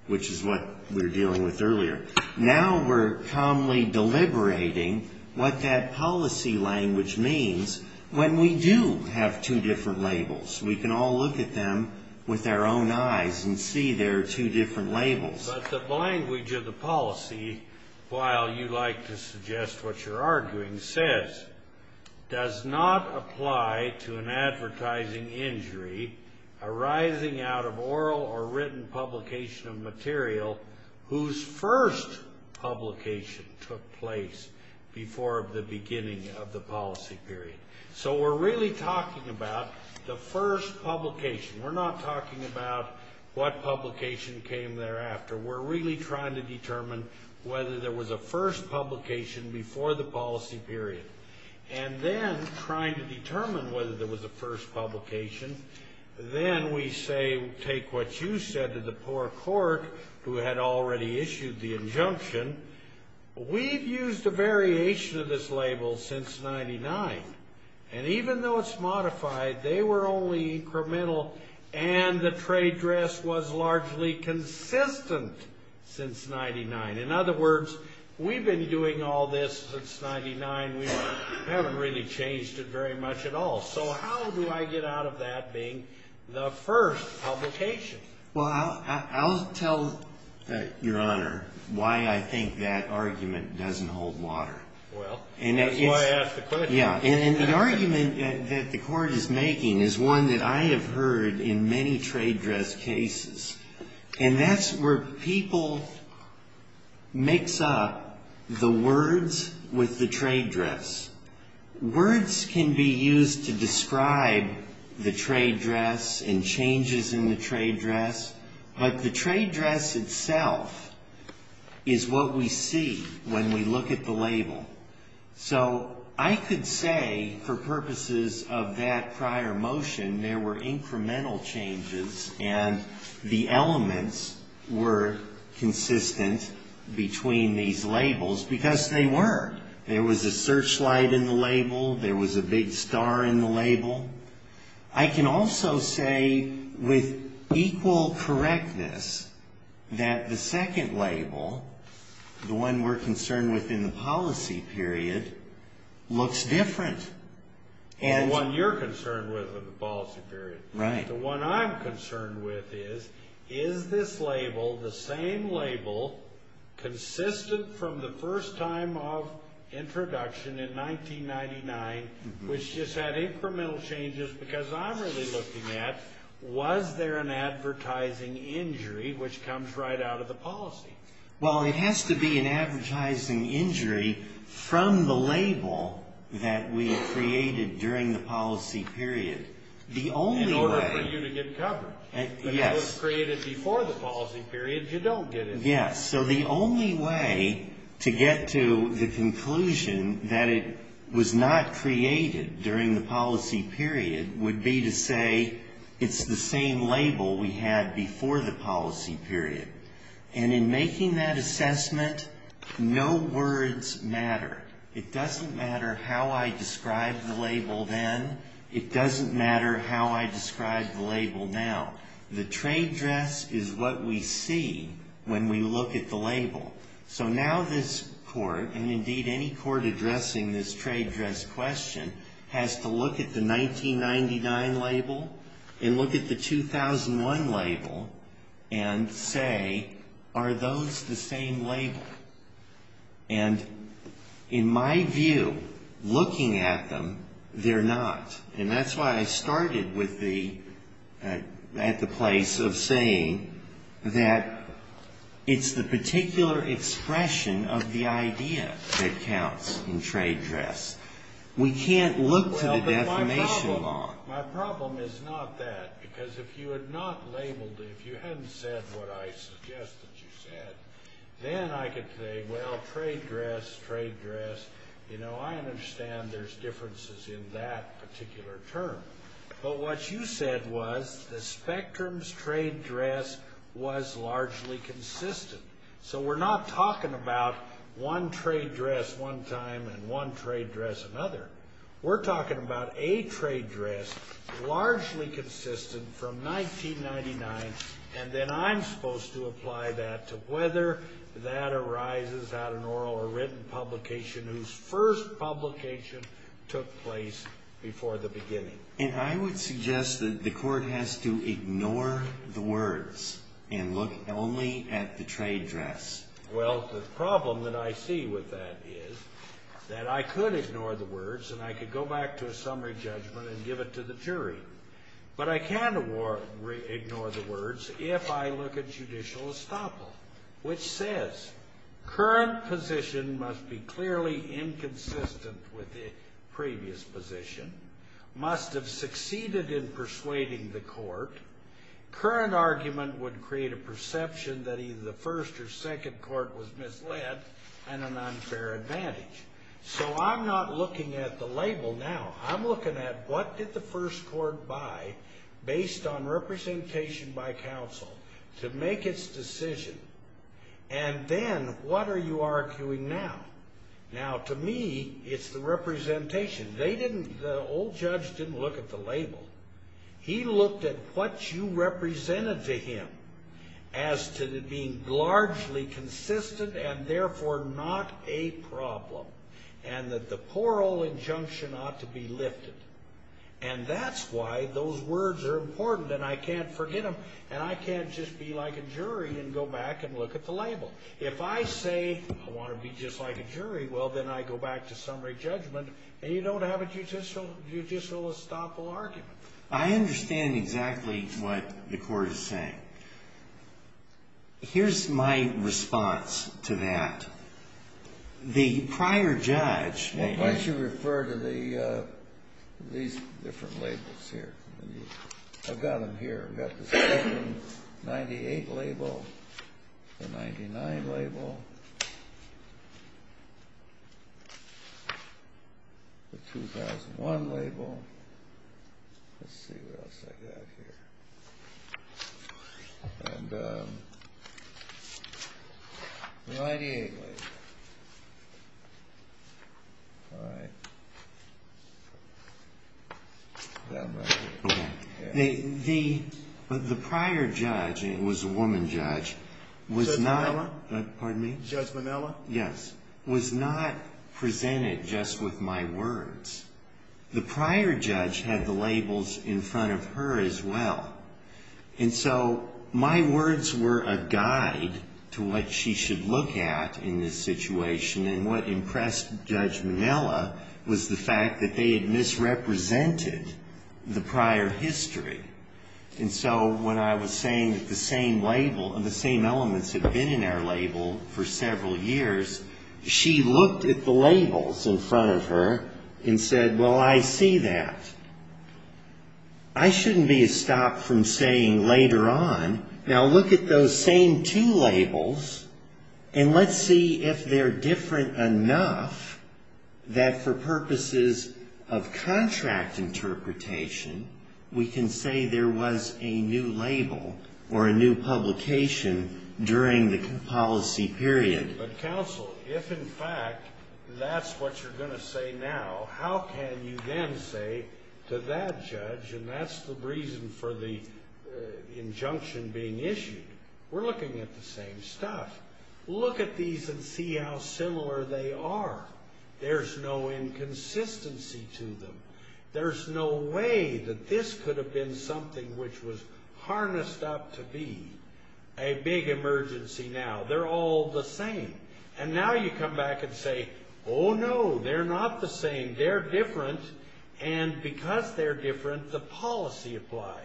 which is what we were dealing with earlier. Now we're calmly deliberating what that policy language means when we do have two different labels. We can all look at them with our own eyes and see they're two different labels. But the language of the policy, while you like to suggest what you're arguing, says, does not apply to an advertising injury arising out of oral or written publication of material whose first publication took place before the beginning of the policy period. So we're really talking about the first publication. We're not talking about what publication came thereafter. We're really trying to determine whether there was a first publication before the policy period, and then trying to determine whether there was a first publication. Then we say, take what you said to the poor court who had already issued the injunction. We've used a variation of this label since 99, and even though it's modified, they were only incremental and the trade dress was largely consistent since 99. In other words, we've been doing all this since 99. We haven't really changed it very much at all. So how do I get out of that being the first publication? Well, I'll tell your Honor why I think that argument doesn't hold water. Well, that's why I asked the question. Yeah, and the argument that the court is making is one that I have heard in many trade dress cases, and that's where people mix up the words with the trade dress. Words can be used to describe the trade dress and changes in the trade dress, but the trade dress itself is what we see when we look at the label. So I could say, for purposes of that prior motion, there were incremental changes, and the elements were consistent between these labels because they were. There was a searchlight in the label. There was a big star in the label. I can also say with equal correctness that the second label, the one we're concerned with in the policy period, looks different. The one you're concerned with in the policy period. Right. The one I'm concerned with is, is this label, the same label, consistent from the first time of introduction in 1999, which just had incremental changes because I'm really looking at, was there an advertising injury which comes right out of the policy? Well, it has to be an advertising injury from the label that we created during the policy period. The only way. In order for you to get covered. Yes. If it was created before the policy period, you don't get it. Yes. So the only way to get to the conclusion that it was not created during the policy period would be to say it's the same label we had before the policy period. And in making that assessment, no words matter. It doesn't matter how I describe the label then. It doesn't matter how I describe the label now. The trade dress is what we see when we look at the label. So now this court, and indeed any court addressing this trade dress question, has to look at the 1999 label and look at the 2001 label and say, are those the same label? And in my view, looking at them, they're not. And that's why I started at the place of saying that it's the particular expression of the idea that counts in trade dress. We can't look to the defamation law. My problem is not that, because if you had not labeled it, if you hadn't said what I suggested you said, then I could say, well, trade dress, trade dress, you know, I understand there's differences in that particular term. But what you said was the spectrum's trade dress was largely consistent. So we're not talking about one trade dress one time and one trade dress another. We're talking about a trade dress largely consistent from 1999, and then I'm supposed to apply that to whether that arises out of an oral or written publication whose first publication took place before the beginning. And I would suggest that the court has to ignore the words and look only at the trade dress. Well, the problem that I see with that is that I could ignore the words, and I could go back to a summary judgment and give it to the jury. But I can't ignore the words if I look at judicial estoppel, which says current position must be clearly inconsistent with the previous position, must have succeeded in persuading the court. Current argument would create a perception that either the first or second court was misled and an unfair advantage. So I'm not looking at the label now. I'm looking at what did the first court buy based on representation by counsel to make its decision. And then what are you arguing now? Now, to me, it's the representation. The old judge didn't look at the label. He looked at what you represented to him as to the being largely consistent and therefore not a problem and that the plural injunction ought to be lifted. And that's why those words are important, and I can't forget them, and I can't just be like a jury and go back and look at the label. If I say I want to be just like a jury, well, then I go back to summary judgment, and you don't have a judicial estoppel argument. I understand exactly what the court is saying. Here's my response to that. Why don't you refer to these different labels here? I've got them here. I've got the 1998 label, the 1999 label, the 2001 label. Let's see what else I've got here. And the 1998 label. All right. The prior judge, it was a woman judge, was not— Judge Manilla? Pardon me? Judge Manilla? Yes. Was not presented just with my words. The prior judge had the labels in front of her as well. And so my words were a guide to what she should look at in this situation, and what impressed Judge Manilla was the fact that they had misrepresented the prior history. And so when I was saying that the same label, the same elements had been in that label for several years, she looked at the labels in front of her and said, well, I see that. I shouldn't be stopped from saying later on, now look at those same two labels and let's see if they're different enough that for purposes of contract interpretation, we can say there was a new label or a new publication during the policy period. But counsel, if in fact that's what you're going to say now, how can you then say to that judge, and that's the reason for the injunction being issued, we're looking at the same stuff. Look at these and see how similar they are. There's no inconsistency to them. There's no way that this could have been something which was harnessed up to be a big emergency now. They're all the same. And now you come back and say, oh, no, they're not the same. They're different. And because they're different, the policy applies.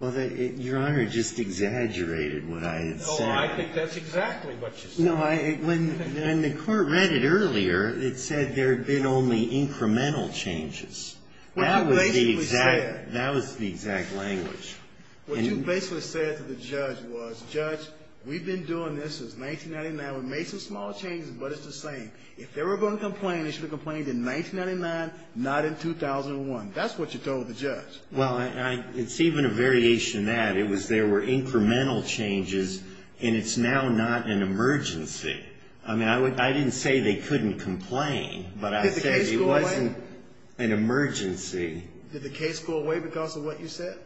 Well, your Honor just exaggerated what I had said. Oh, I think that's exactly what you said. No, when the court read it earlier, it said there had been only incremental changes. That was the exact language. What you basically said to the judge was, judge, we've been doing this since 1999. We've made some small changes, but it's the same. If they were going to complain, they should have complained in 1999, not in 2001. That's what you told the judge. Well, it's even a variation of that. It was there were incremental changes, and it's now not an emergency. I mean, I didn't say they couldn't complain, but I said it wasn't an emergency. Did the case go away because of what you said?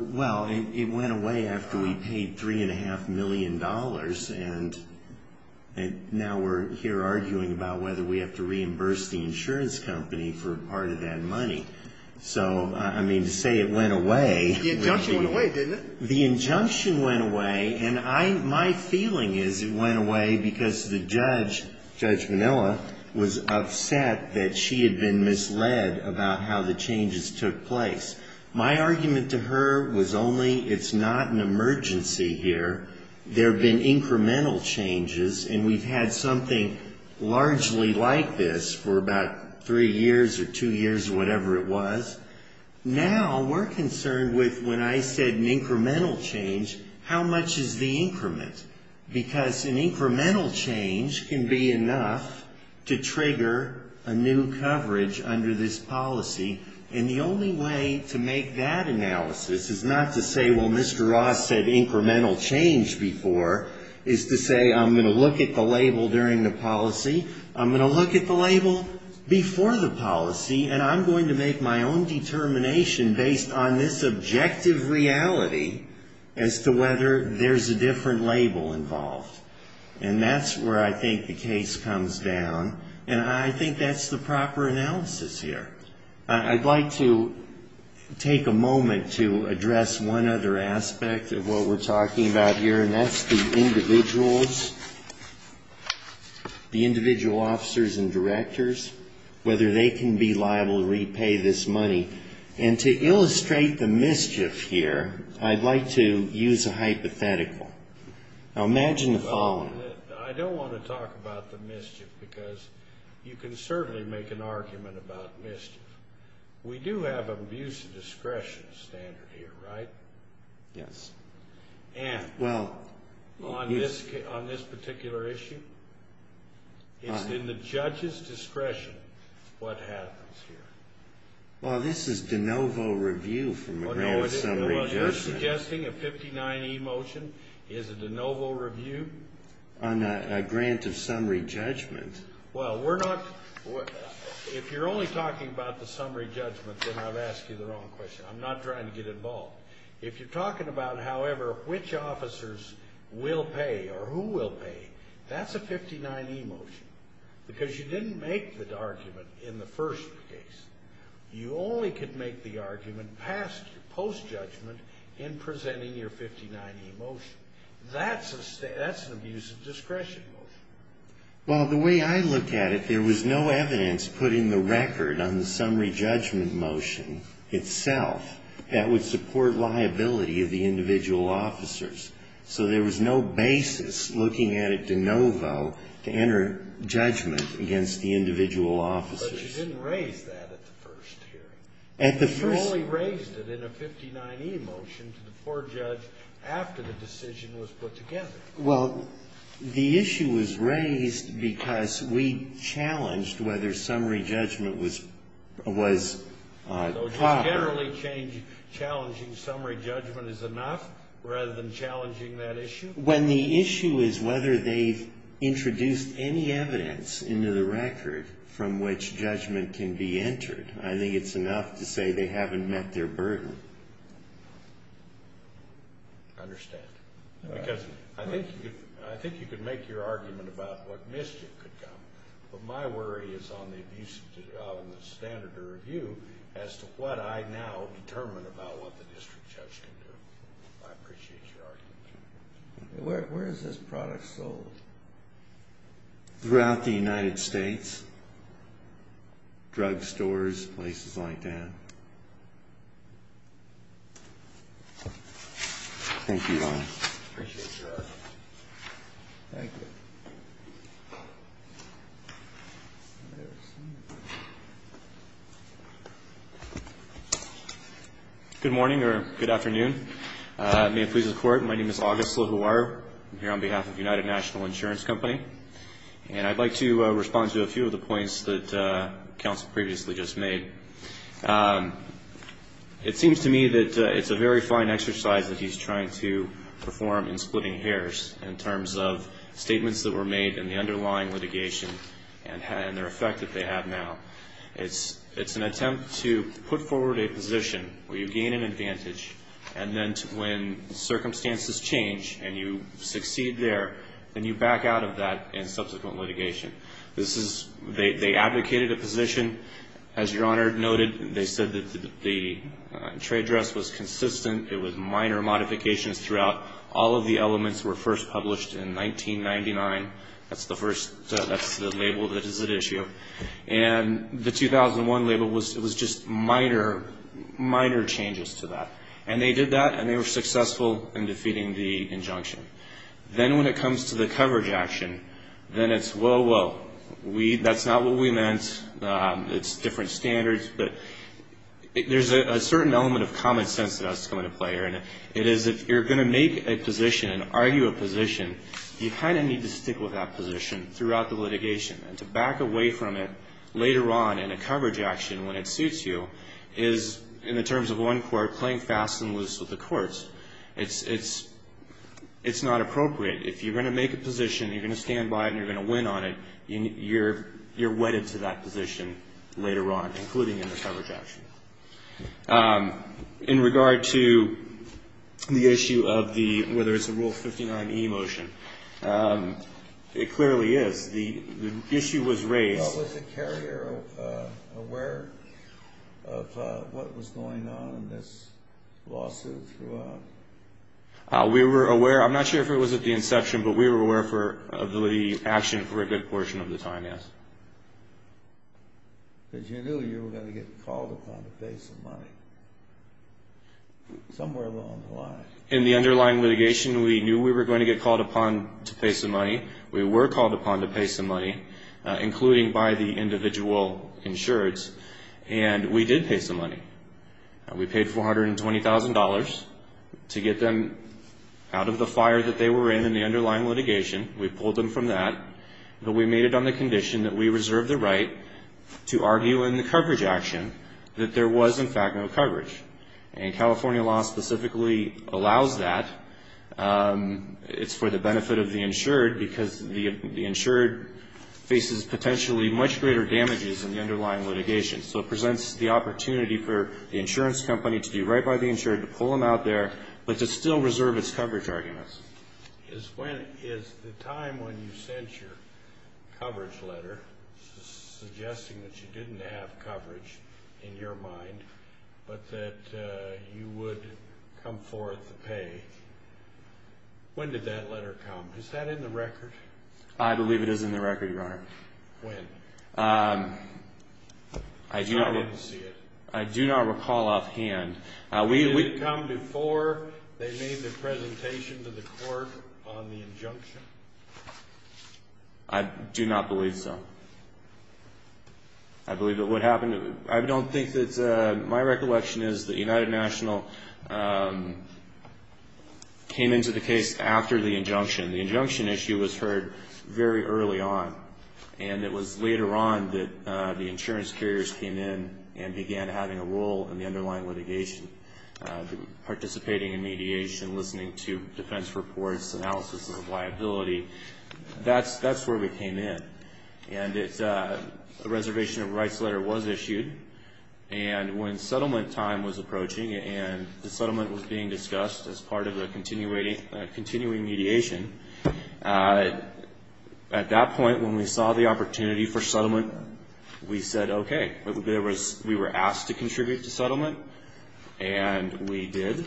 Well, it went away after we paid $3.5 million. And now we're here arguing about whether we have to reimburse the insurance company for part of that money. So, I mean, to say it went away. The injunction went away, didn't it? The injunction went away. My feeling is it went away because the judge, Judge Manila, was upset that she had been misled about how the changes took place. My argument to her was only it's not an emergency here. There have been incremental changes, and we've had something largely like this for about three years or two years, whatever it was. Now we're concerned with when I said an incremental change, how much is the increment? Because an incremental change can be enough to trigger a new coverage under this policy, and the only way to make that analysis is not to say, well, Mr. Ross said incremental change before, is to say I'm going to look at the label during the policy. I'm going to look at the label before the policy, and I'm going to make my own determination based on this objective reality as to whether there's a different label involved. And that's where I think the case comes down, and I think that's the proper analysis here. I'd like to take a moment to address one other aspect of what we're talking about here, and that's the individuals, the individual officers and directors, whether they can be liable to repay this money. And to illustrate the mischief here, I'd like to use a hypothetical. Now imagine the following. I don't want to talk about the mischief because you can certainly make an argument about mischief. We do have an abuse of discretion standard here, right? Yes. And on this particular issue, it's in the judge's discretion what happens here. Well, this is de novo review from a grant of summary judgment. Well, you're suggesting a 59E motion is a de novo review? On a grant of summary judgment. Well, we're not – if you're only talking about the summary judgment, then I've asked you the wrong question. I'm not trying to get involved. If you're talking about, however, which officers will pay or who will pay, that's a 59E motion. Because you didn't make the argument in the first case. You only could make the argument post-judgment in presenting your 59E motion. That's an abuse of discretion motion. Well, the way I look at it, there was no evidence put in the record on the summary judgment motion itself that would support liability of the individual officers. So there was no basis looking at it de novo to enter judgment against the individual officers. But you didn't raise that at the first hearing. You only raised it in a 59E motion to the poor judge after the decision was put together. Well, the issue was raised because we challenged whether summary judgment was proper. So generally challenging summary judgment is enough rather than challenging that issue? When the issue is whether they've introduced any evidence into the record from which judgment can be entered, I think it's enough to say they haven't met their burden. I understand. Because I think you could make your argument about what missed it could come. But my worry is on the standard of review as to what I now determine about what the district judge can do. I appreciate your argument. Where is this product sold? Throughout the United States. Drug stores, places like that. Thank you, Ron. Appreciate your help. Thank you. Good morning or good afternoon. May it please the Court, my name is August Lajuar. I'm here on behalf of United National Insurance Company. And I'd like to respond to a few of the points that counsel previously just made. It seems to me that it's a very fine exercise that he's trying to perform in splitting hairs in terms of statements that were made in the underlying litigation and their effect that they have now. It's an attempt to put forward a position where you gain an advantage and then when circumstances change and you succeed there, then you back out of that in subsequent litigation. They advocated a position. As your Honor noted, they said that the trade dress was consistent. It was minor modifications throughout. All of the elements were first published in 1999. That's the label that is at issue. And the 2001 label was just minor, minor changes to that. And they did that and they were successful in defeating the injunction. Then when it comes to the coverage action, then it's whoa, whoa. That's not what we meant. It's different standards. There's a certain element of common sense that I was going to play here. It is if you're going to make a position, argue a position, you kind of need to stick with that position throughout the litigation. To back away from it later on in a coverage action when it suits you is, in the terms of one court, playing fast and loose with the courts. It's not appropriate. If you're going to make a position, you're going to stand by it and you're going to win on it, you're wedded to that position later on, including in a coverage action. In regard to the issue of whether it's a Rule 59e motion, it clearly is. The issue was raised. Was the carrier aware of what was going on in this lawsuit? We were aware. I'm not sure if it was at the inception, but we were aware of the action for a good portion of the time, yes. Did you know you were going to get called upon to pay some money? Somewhere along the line. In the underlying litigation, we knew we were going to get called upon to pay some money. We were called upon to pay some money, including by the individual insureds, and we did pay some money. We paid $420,000 to get them out of the fire that they were in in the underlying litigation. We pulled them from that, but we made it on the condition that we reserve the right to argue in the coverage action that there was, in fact, no coverage. California law specifically allows that. It's for the benefit of the insured because the insured faces potentially much greater damages in the underlying litigation. So it presents the opportunity for the insurance company to be right by the insured, to pull them out there, but to still reserve its coverage arguments. Is the time when you sent your coverage letter suggesting that you didn't have coverage in your mind, but that you would come forth to pay, when did that letter come? Is that in the record? I believe it is in the record, Your Honor. When? I do not recall offhand. Did it come before they made the presentation to the court on the injunction? I do not believe so. I don't think that my recollection is that United National came into the case after the injunction. The injunction issue was heard very early on, and it was later on that the insurance carriers came in and began having a role in the underlying litigation, participating in mediation, listening to defense reports, analysis of liability. That's where we came in. And a reservation of rights letter was issued, and when settlement time was approaching and the settlement was being discussed as part of a continuing mediation, at that point when we saw the opportunity for settlement, we said okay. We were asked to contribute to settlement, and we did.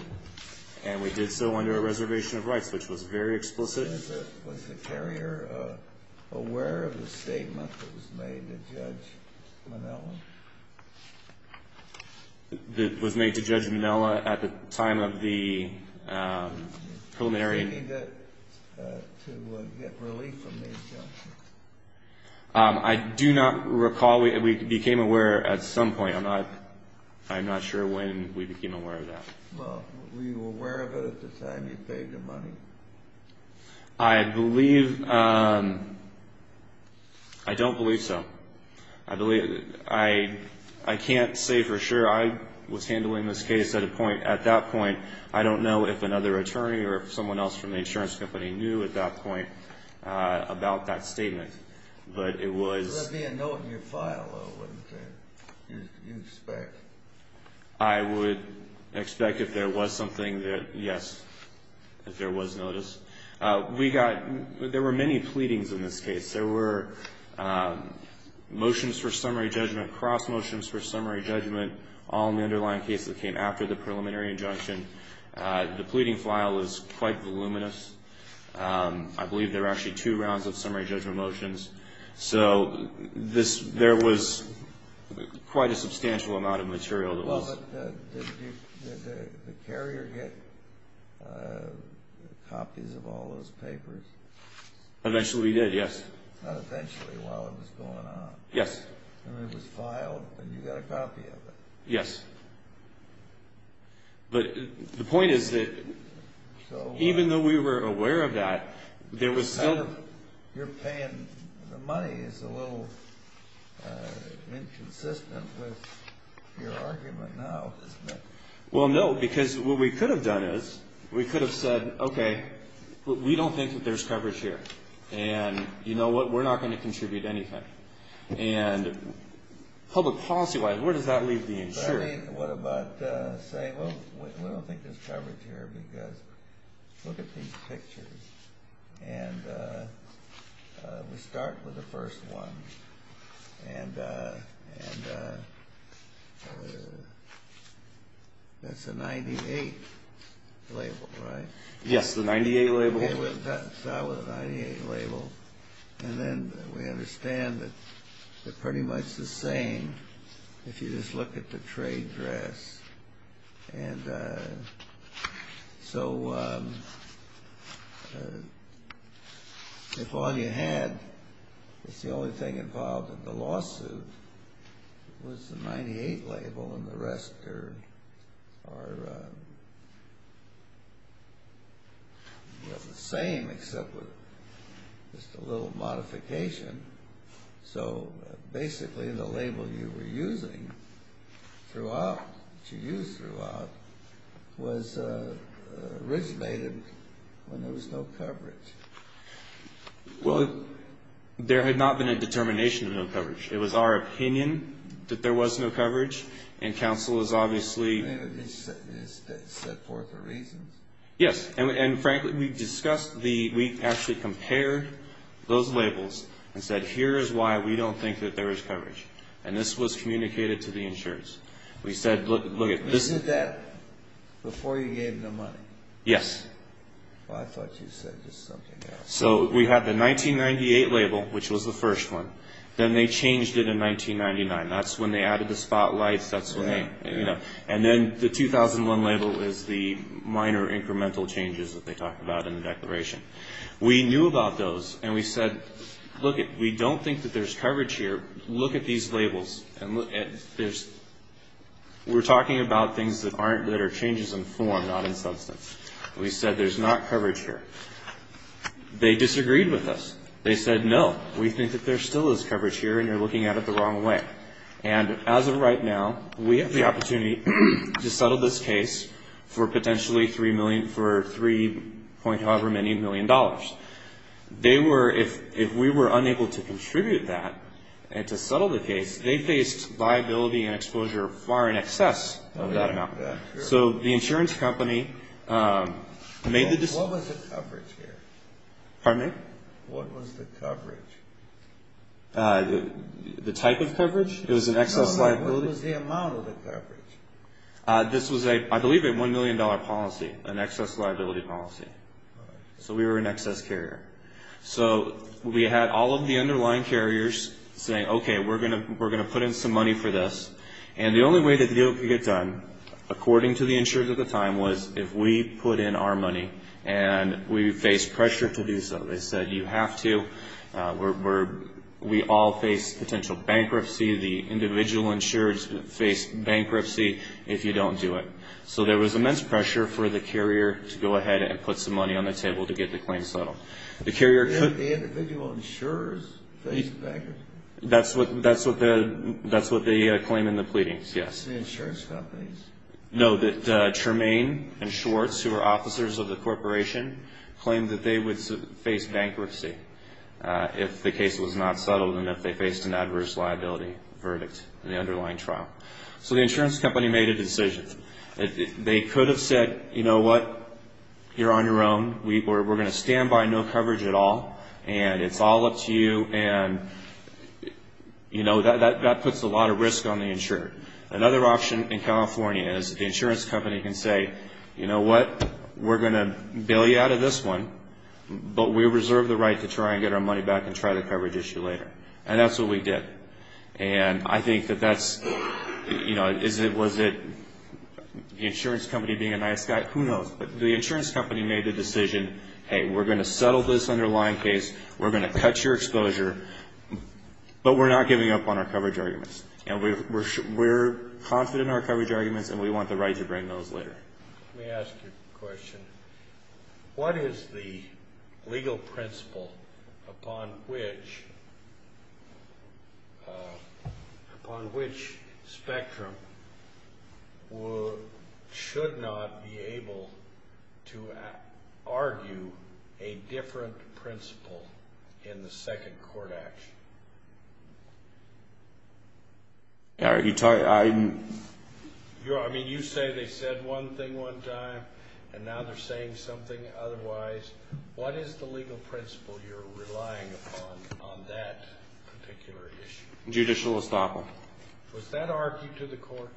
And we did so under a reservation of rights, which was very explicit. Was the carrier aware of the statement that was made to Judge Manoa? That was made to Judge Manoa at the time of the preliminary? To get relief from the injunction. I do not recall. We became aware at some point. I'm not sure when we became aware of that. Well, were you aware of it at the time you paid the money? I believe. I don't believe so. I can't say for sure I was handling this case at that point. I don't know if another attorney or someone else from the insurance company knew at that point about that statement. But it was. There would be a note in your file of what you expect. I would expect if there was something, yes, that there was notice. There were many pleadings in this case. There were motions for summary judgment, cross motions for summary judgment, all in the underlying case that came after the preliminary injunction. The pleading file was quite voluminous. I believe there were actually two rounds of summary judgment motions. So there was quite a substantial amount of material that was. Did the carrier get copies of all those papers? Eventually we did, yes. Not essentially while it was going on. Yes. It was filed and you got a copy of it. Yes. But the point is that even though we were aware of that, there was. You're paying the money. It's a little inconsistent with your argument now. Well, no, because what we could have done is we could have said, okay, we don't think that there's coverage here. And you know what, we're not going to contribute anything. And public policy-wise, where does that leave the insurance? What about saying, oh, we don't think there's coverage here because look at these pictures. And we start with the first one, and that's a 98 label, right? Yes, the 98 label. That was a 98 label. And then we understand that they're pretty much the same if you just look at the trade draft. And so if all you had is the only thing involved in the lawsuit was the 98 label and the rest are the same except with just a little modification. So basically the label you were using throughout, to use throughout, was originated when there was no coverage. Well, there had not been a determination of no coverage. It was our opinion that there was no coverage, and counsel has obviously – Is that a reason? Yes. And frankly, we discussed the – we actually compared those labels and said, here is why we don't think that there is coverage. And this was communicated to the insurance. We said, look at – This is that before you gave them the money? Yes. Well, I thought you said something else. So we had the 1998 label, which was the first one. Then they changed it in 1999. That's when they added the spotlights. And then the 2001 label was the minor incremental changes that they talked about in the declaration. We knew about those, and we said, look, we don't think that there's coverage here. Look at these labels. We're talking about things that are changes in form, not in substance. We said there's not coverage here. They disagreed with us. They said, no, we think that there still is coverage here, and you're looking at it the wrong way. And as of right now, we have the opportunity to settle this case for potentially three million – for three point however many million dollars. They were – if we were unable to contribute that and to settle the case, they faced liability and exposure far in excess of that amount. So the insurance company made the – What was the coverage here? Pardon me? What was the coverage? The type of coverage? It was an excess liability? What was the amount of the coverage? This was, I believe, a $1 million policy, an excess liability policy. So we were an excess carrier. So we had all of the underlying carriers saying, okay, we're going to put in some money for this. And the only way to get it done, according to the insurance at the time, was if we put in our money. And we faced pressure to do so. They said, you have to. We all face potential bankruptcy. The individual insurers face bankruptcy if you don't do it. So there was immense pressure for the carrier to go ahead and put some money on the table to get the claim settled. The carrier could – Did the individual insurers face bankruptcy? That's what they claim in the pleadings, yes. The insurance companies? No, that Tremaine and Schwartz, who were officers of the corporation, claimed that they would face bankruptcy if the case was not settled and if they faced an adverse liability verdict in the underlying trial. So the insurance company made a decision. They could have said, you know what, you're on your own. We're going to stand by no coverage at all. And it's all up to you. And, you know, that puts a lot of risk on the insurer. Another option in California is the insurance company can say, you know what, we're going to bail you out of this one, but we reserve the right to try and get our money back and try to coverage issue later. And that's what we did. And I think that that's – you know, was it the insurance company being a nice guy? Who knows. But the insurance company made the decision, hey, we're going to settle this underlying case. We're going to cut your exposure, but we're not giving up on our coverage arguments. And we're confident in our coverage arguments, and we want the right to bring those later. Let me ask you a question. What is the legal principle upon which – upon which spectrum should not be able to argue a different principle in the second court action? I mean, you say they said one thing one time, and now they're saying something otherwise. What is the legal principle you're relying upon on that particular issue? Judicial estoppel. Was that argued to the court?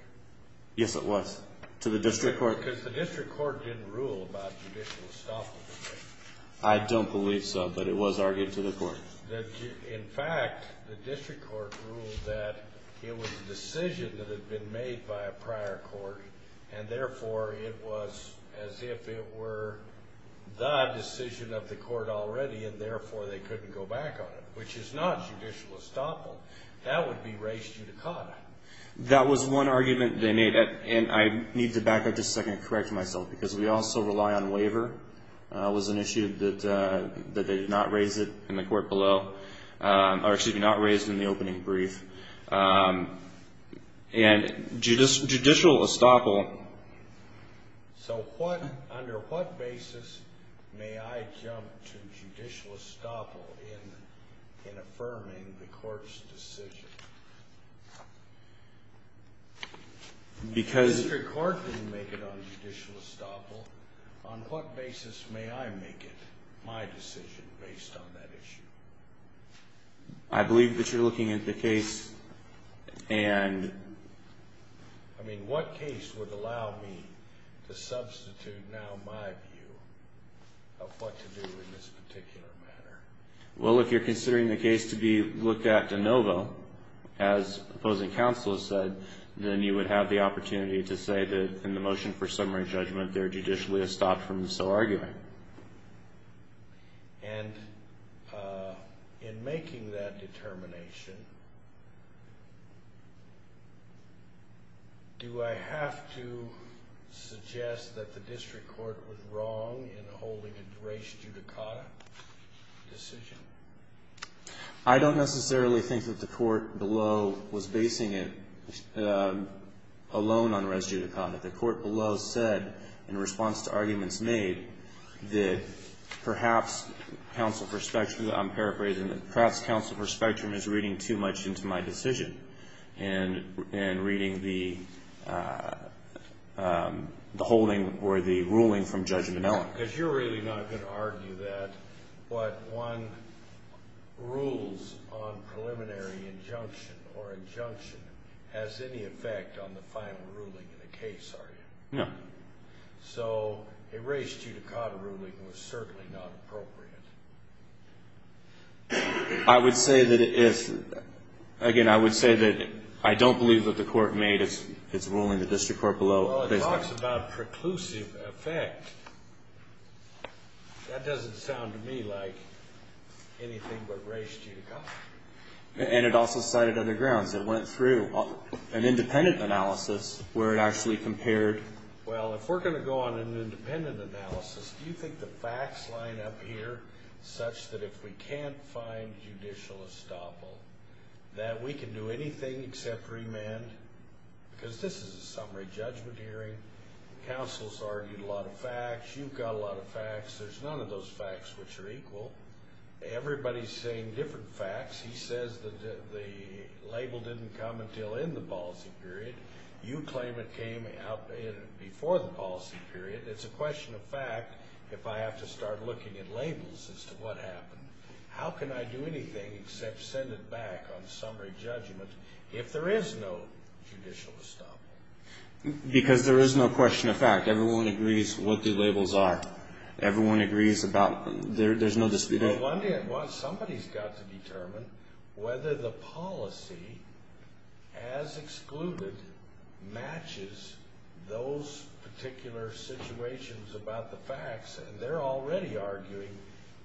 Yes, it was. To the district court? Because the district court didn't rule about judicial estoppel. I don't believe so, but it was argued to the court. In fact, the district court ruled that it was a decision that had been made by a prior court, and therefore it was as if it were the decision of the court already, and therefore they couldn't go back on it, which is not judicial estoppel. That would be raised in the conduct. That was one argument they made, and I need to back up just a second and correct myself, because we also rely on waiver was an issue that they did not raise in the court below – or excuse me, not raise in the opening brief. And judicial estoppel – So what – under what basis may I jump to judicial estoppel in affirming the court's decision? Because – The district court didn't make it on judicial estoppel. On what basis may I make it my decision based on that issue? I believe that you're looking at the case and – I mean, what case would allow me to substitute now my view of what to do in this particular matter? Well, if you're considering the case to be looked at de novo, as opposing counsel has said, then you would have the opportunity to say that in the motion for summary judgment, they're judicially estopped from so arguing. And in making that determination, do I have to suggest that the district court was wrong in holding a res judicata decision? I don't necessarily think that the court below was basing it alone on res judicata. The court below said, in response to arguments made, that perhaps counsel for Spectrum – I don't want to get too much into my decision in reading the holding or the ruling from Judge Vanella. But you're really not going to argue that what one rules on preliminary injunction or injunction has any effect on the final ruling of the case, are you? No. So a res judicata ruling was certainly not appropriate. I would say that if – again, I would say that I don't believe that the court made its ruling. The district court below said – Well, it talks about preclusive effect. That doesn't sound to me like anything but res judicata. And it also sided on the ground. It went through an independent analysis where it actually compared – Well, if we're going to go on an independent analysis, do you think the facts line up here such that if we can't find judicial estoppel, that we can do anything except remand? Because this is a summary judgment hearing. Counsel's argued a lot of facts. You've got a lot of facts. There's none of those facts which are equal. Everybody's saying different facts. He says that the label didn't come until in the policy period. You claim it came before the policy period. It's a question of fact if I have to start looking at labels as to what happened. How can I do anything except send it back on summary judgment if there is no judicial estoppel? Because there is no question of fact. Everyone agrees what the labels are. Everyone agrees about – there's no dispute. Somebody's got to determine whether the policy, as excluded, matches those particular situations about the facts, and they're already arguing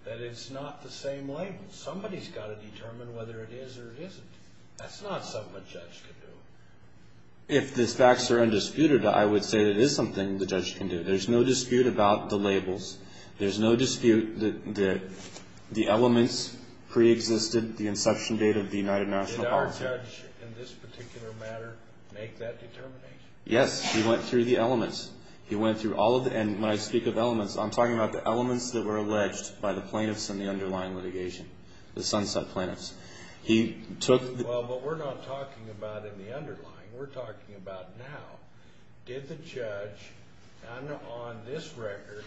that it's not the same label. Somebody's got to determine whether it is or it isn't. That's not something a judge can do. If the facts are undisputed, I would say that it is something the judge can do. There's no dispute about the labels. There's no dispute that the elements pre-existed the instruction data of the United Nations. Did our judge, in this particular matter, make that determination? Yes, he went through the elements. He went through all of the – and when I speak of elements, I'm talking about the elements that were alleged by the plaintiffs in the underlying litigation, the Sunset Plaintiffs. He took – Well, what we're not talking about in the underlying. We're talking about now. Did the judge, on this record,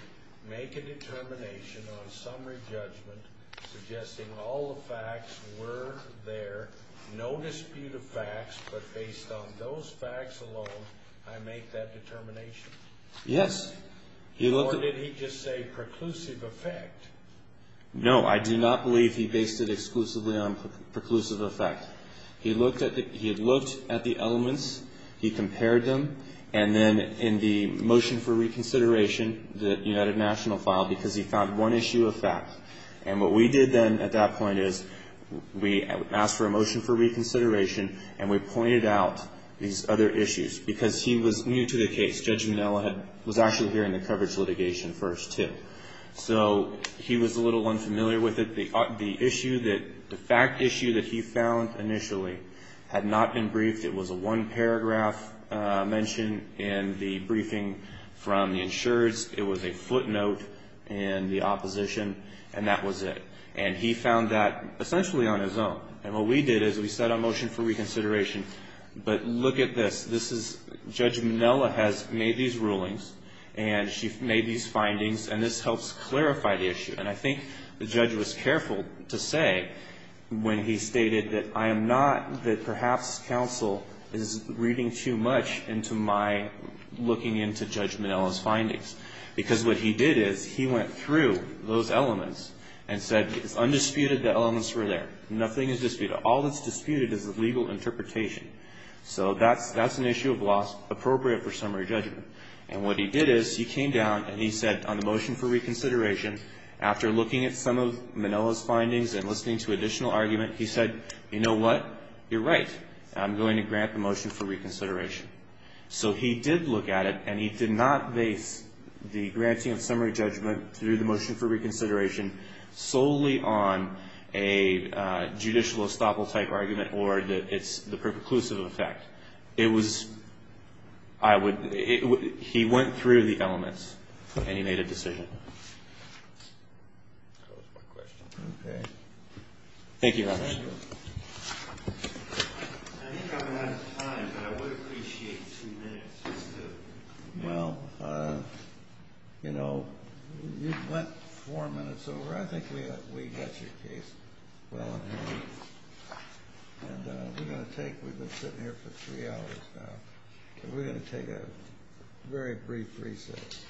make a determination on summary judgment suggesting all the facts were there, no dispute of facts, but based on those facts alone, I make that determination? Yes. Or did he just say preclusive effect? No, I do not believe he based it exclusively on preclusive effect. He looked at the elements. He compared them. And then in the motion for reconsideration, the United Nations filed, because he found one issue of fact. And what we did then at that point is we asked for a motion for reconsideration, and we pointed out these other issues, because he was new to the case. Judging now, he was actually here in the preface litigation first, too. So he was a little unfamiliar with it. The issue that – the fact issue that he found initially had not been briefed. It was a one-paragraph mention in the briefing from the insureds. It was a footnote in the opposition, and that was it. And he found that essentially on his own. And what we did is we set a motion for reconsideration, but look at this. This is – Judge Minella has made these rulings, and she's made these findings, and this helps clarify the issue. And I think the judge was careful to say when he stated that I am not – that perhaps counsel is reading too much into my looking into Judge Minella's findings. Because what he did is he went through those elements and said undisputed the elements were there. Nothing is disputed. All that's disputed is the legal interpretation. So that's an issue of loss appropriate for summary judgment. And what he did is he came down and he said on the motion for reconsideration, after looking at some of Minella's findings and listening to additional argument, he said, you know what? You're right. I'm going to grant the motion for reconsideration. So he did look at it, and he did not make the granting of summary judgment through the motion for reconsideration solely on a judicial estoppel-type argument or the preperclusive effect. It was – I would – he went through the elements, and he made a decision. That was my question. Thank you, Your Honor. Thank you. I'm sorry I'm out of time, but I would appreciate two minutes. No. You know, you've got four minutes, so I think we have a week. And we're going to take – we've been sitting here for three hours now, so we're going to take a very brief recess.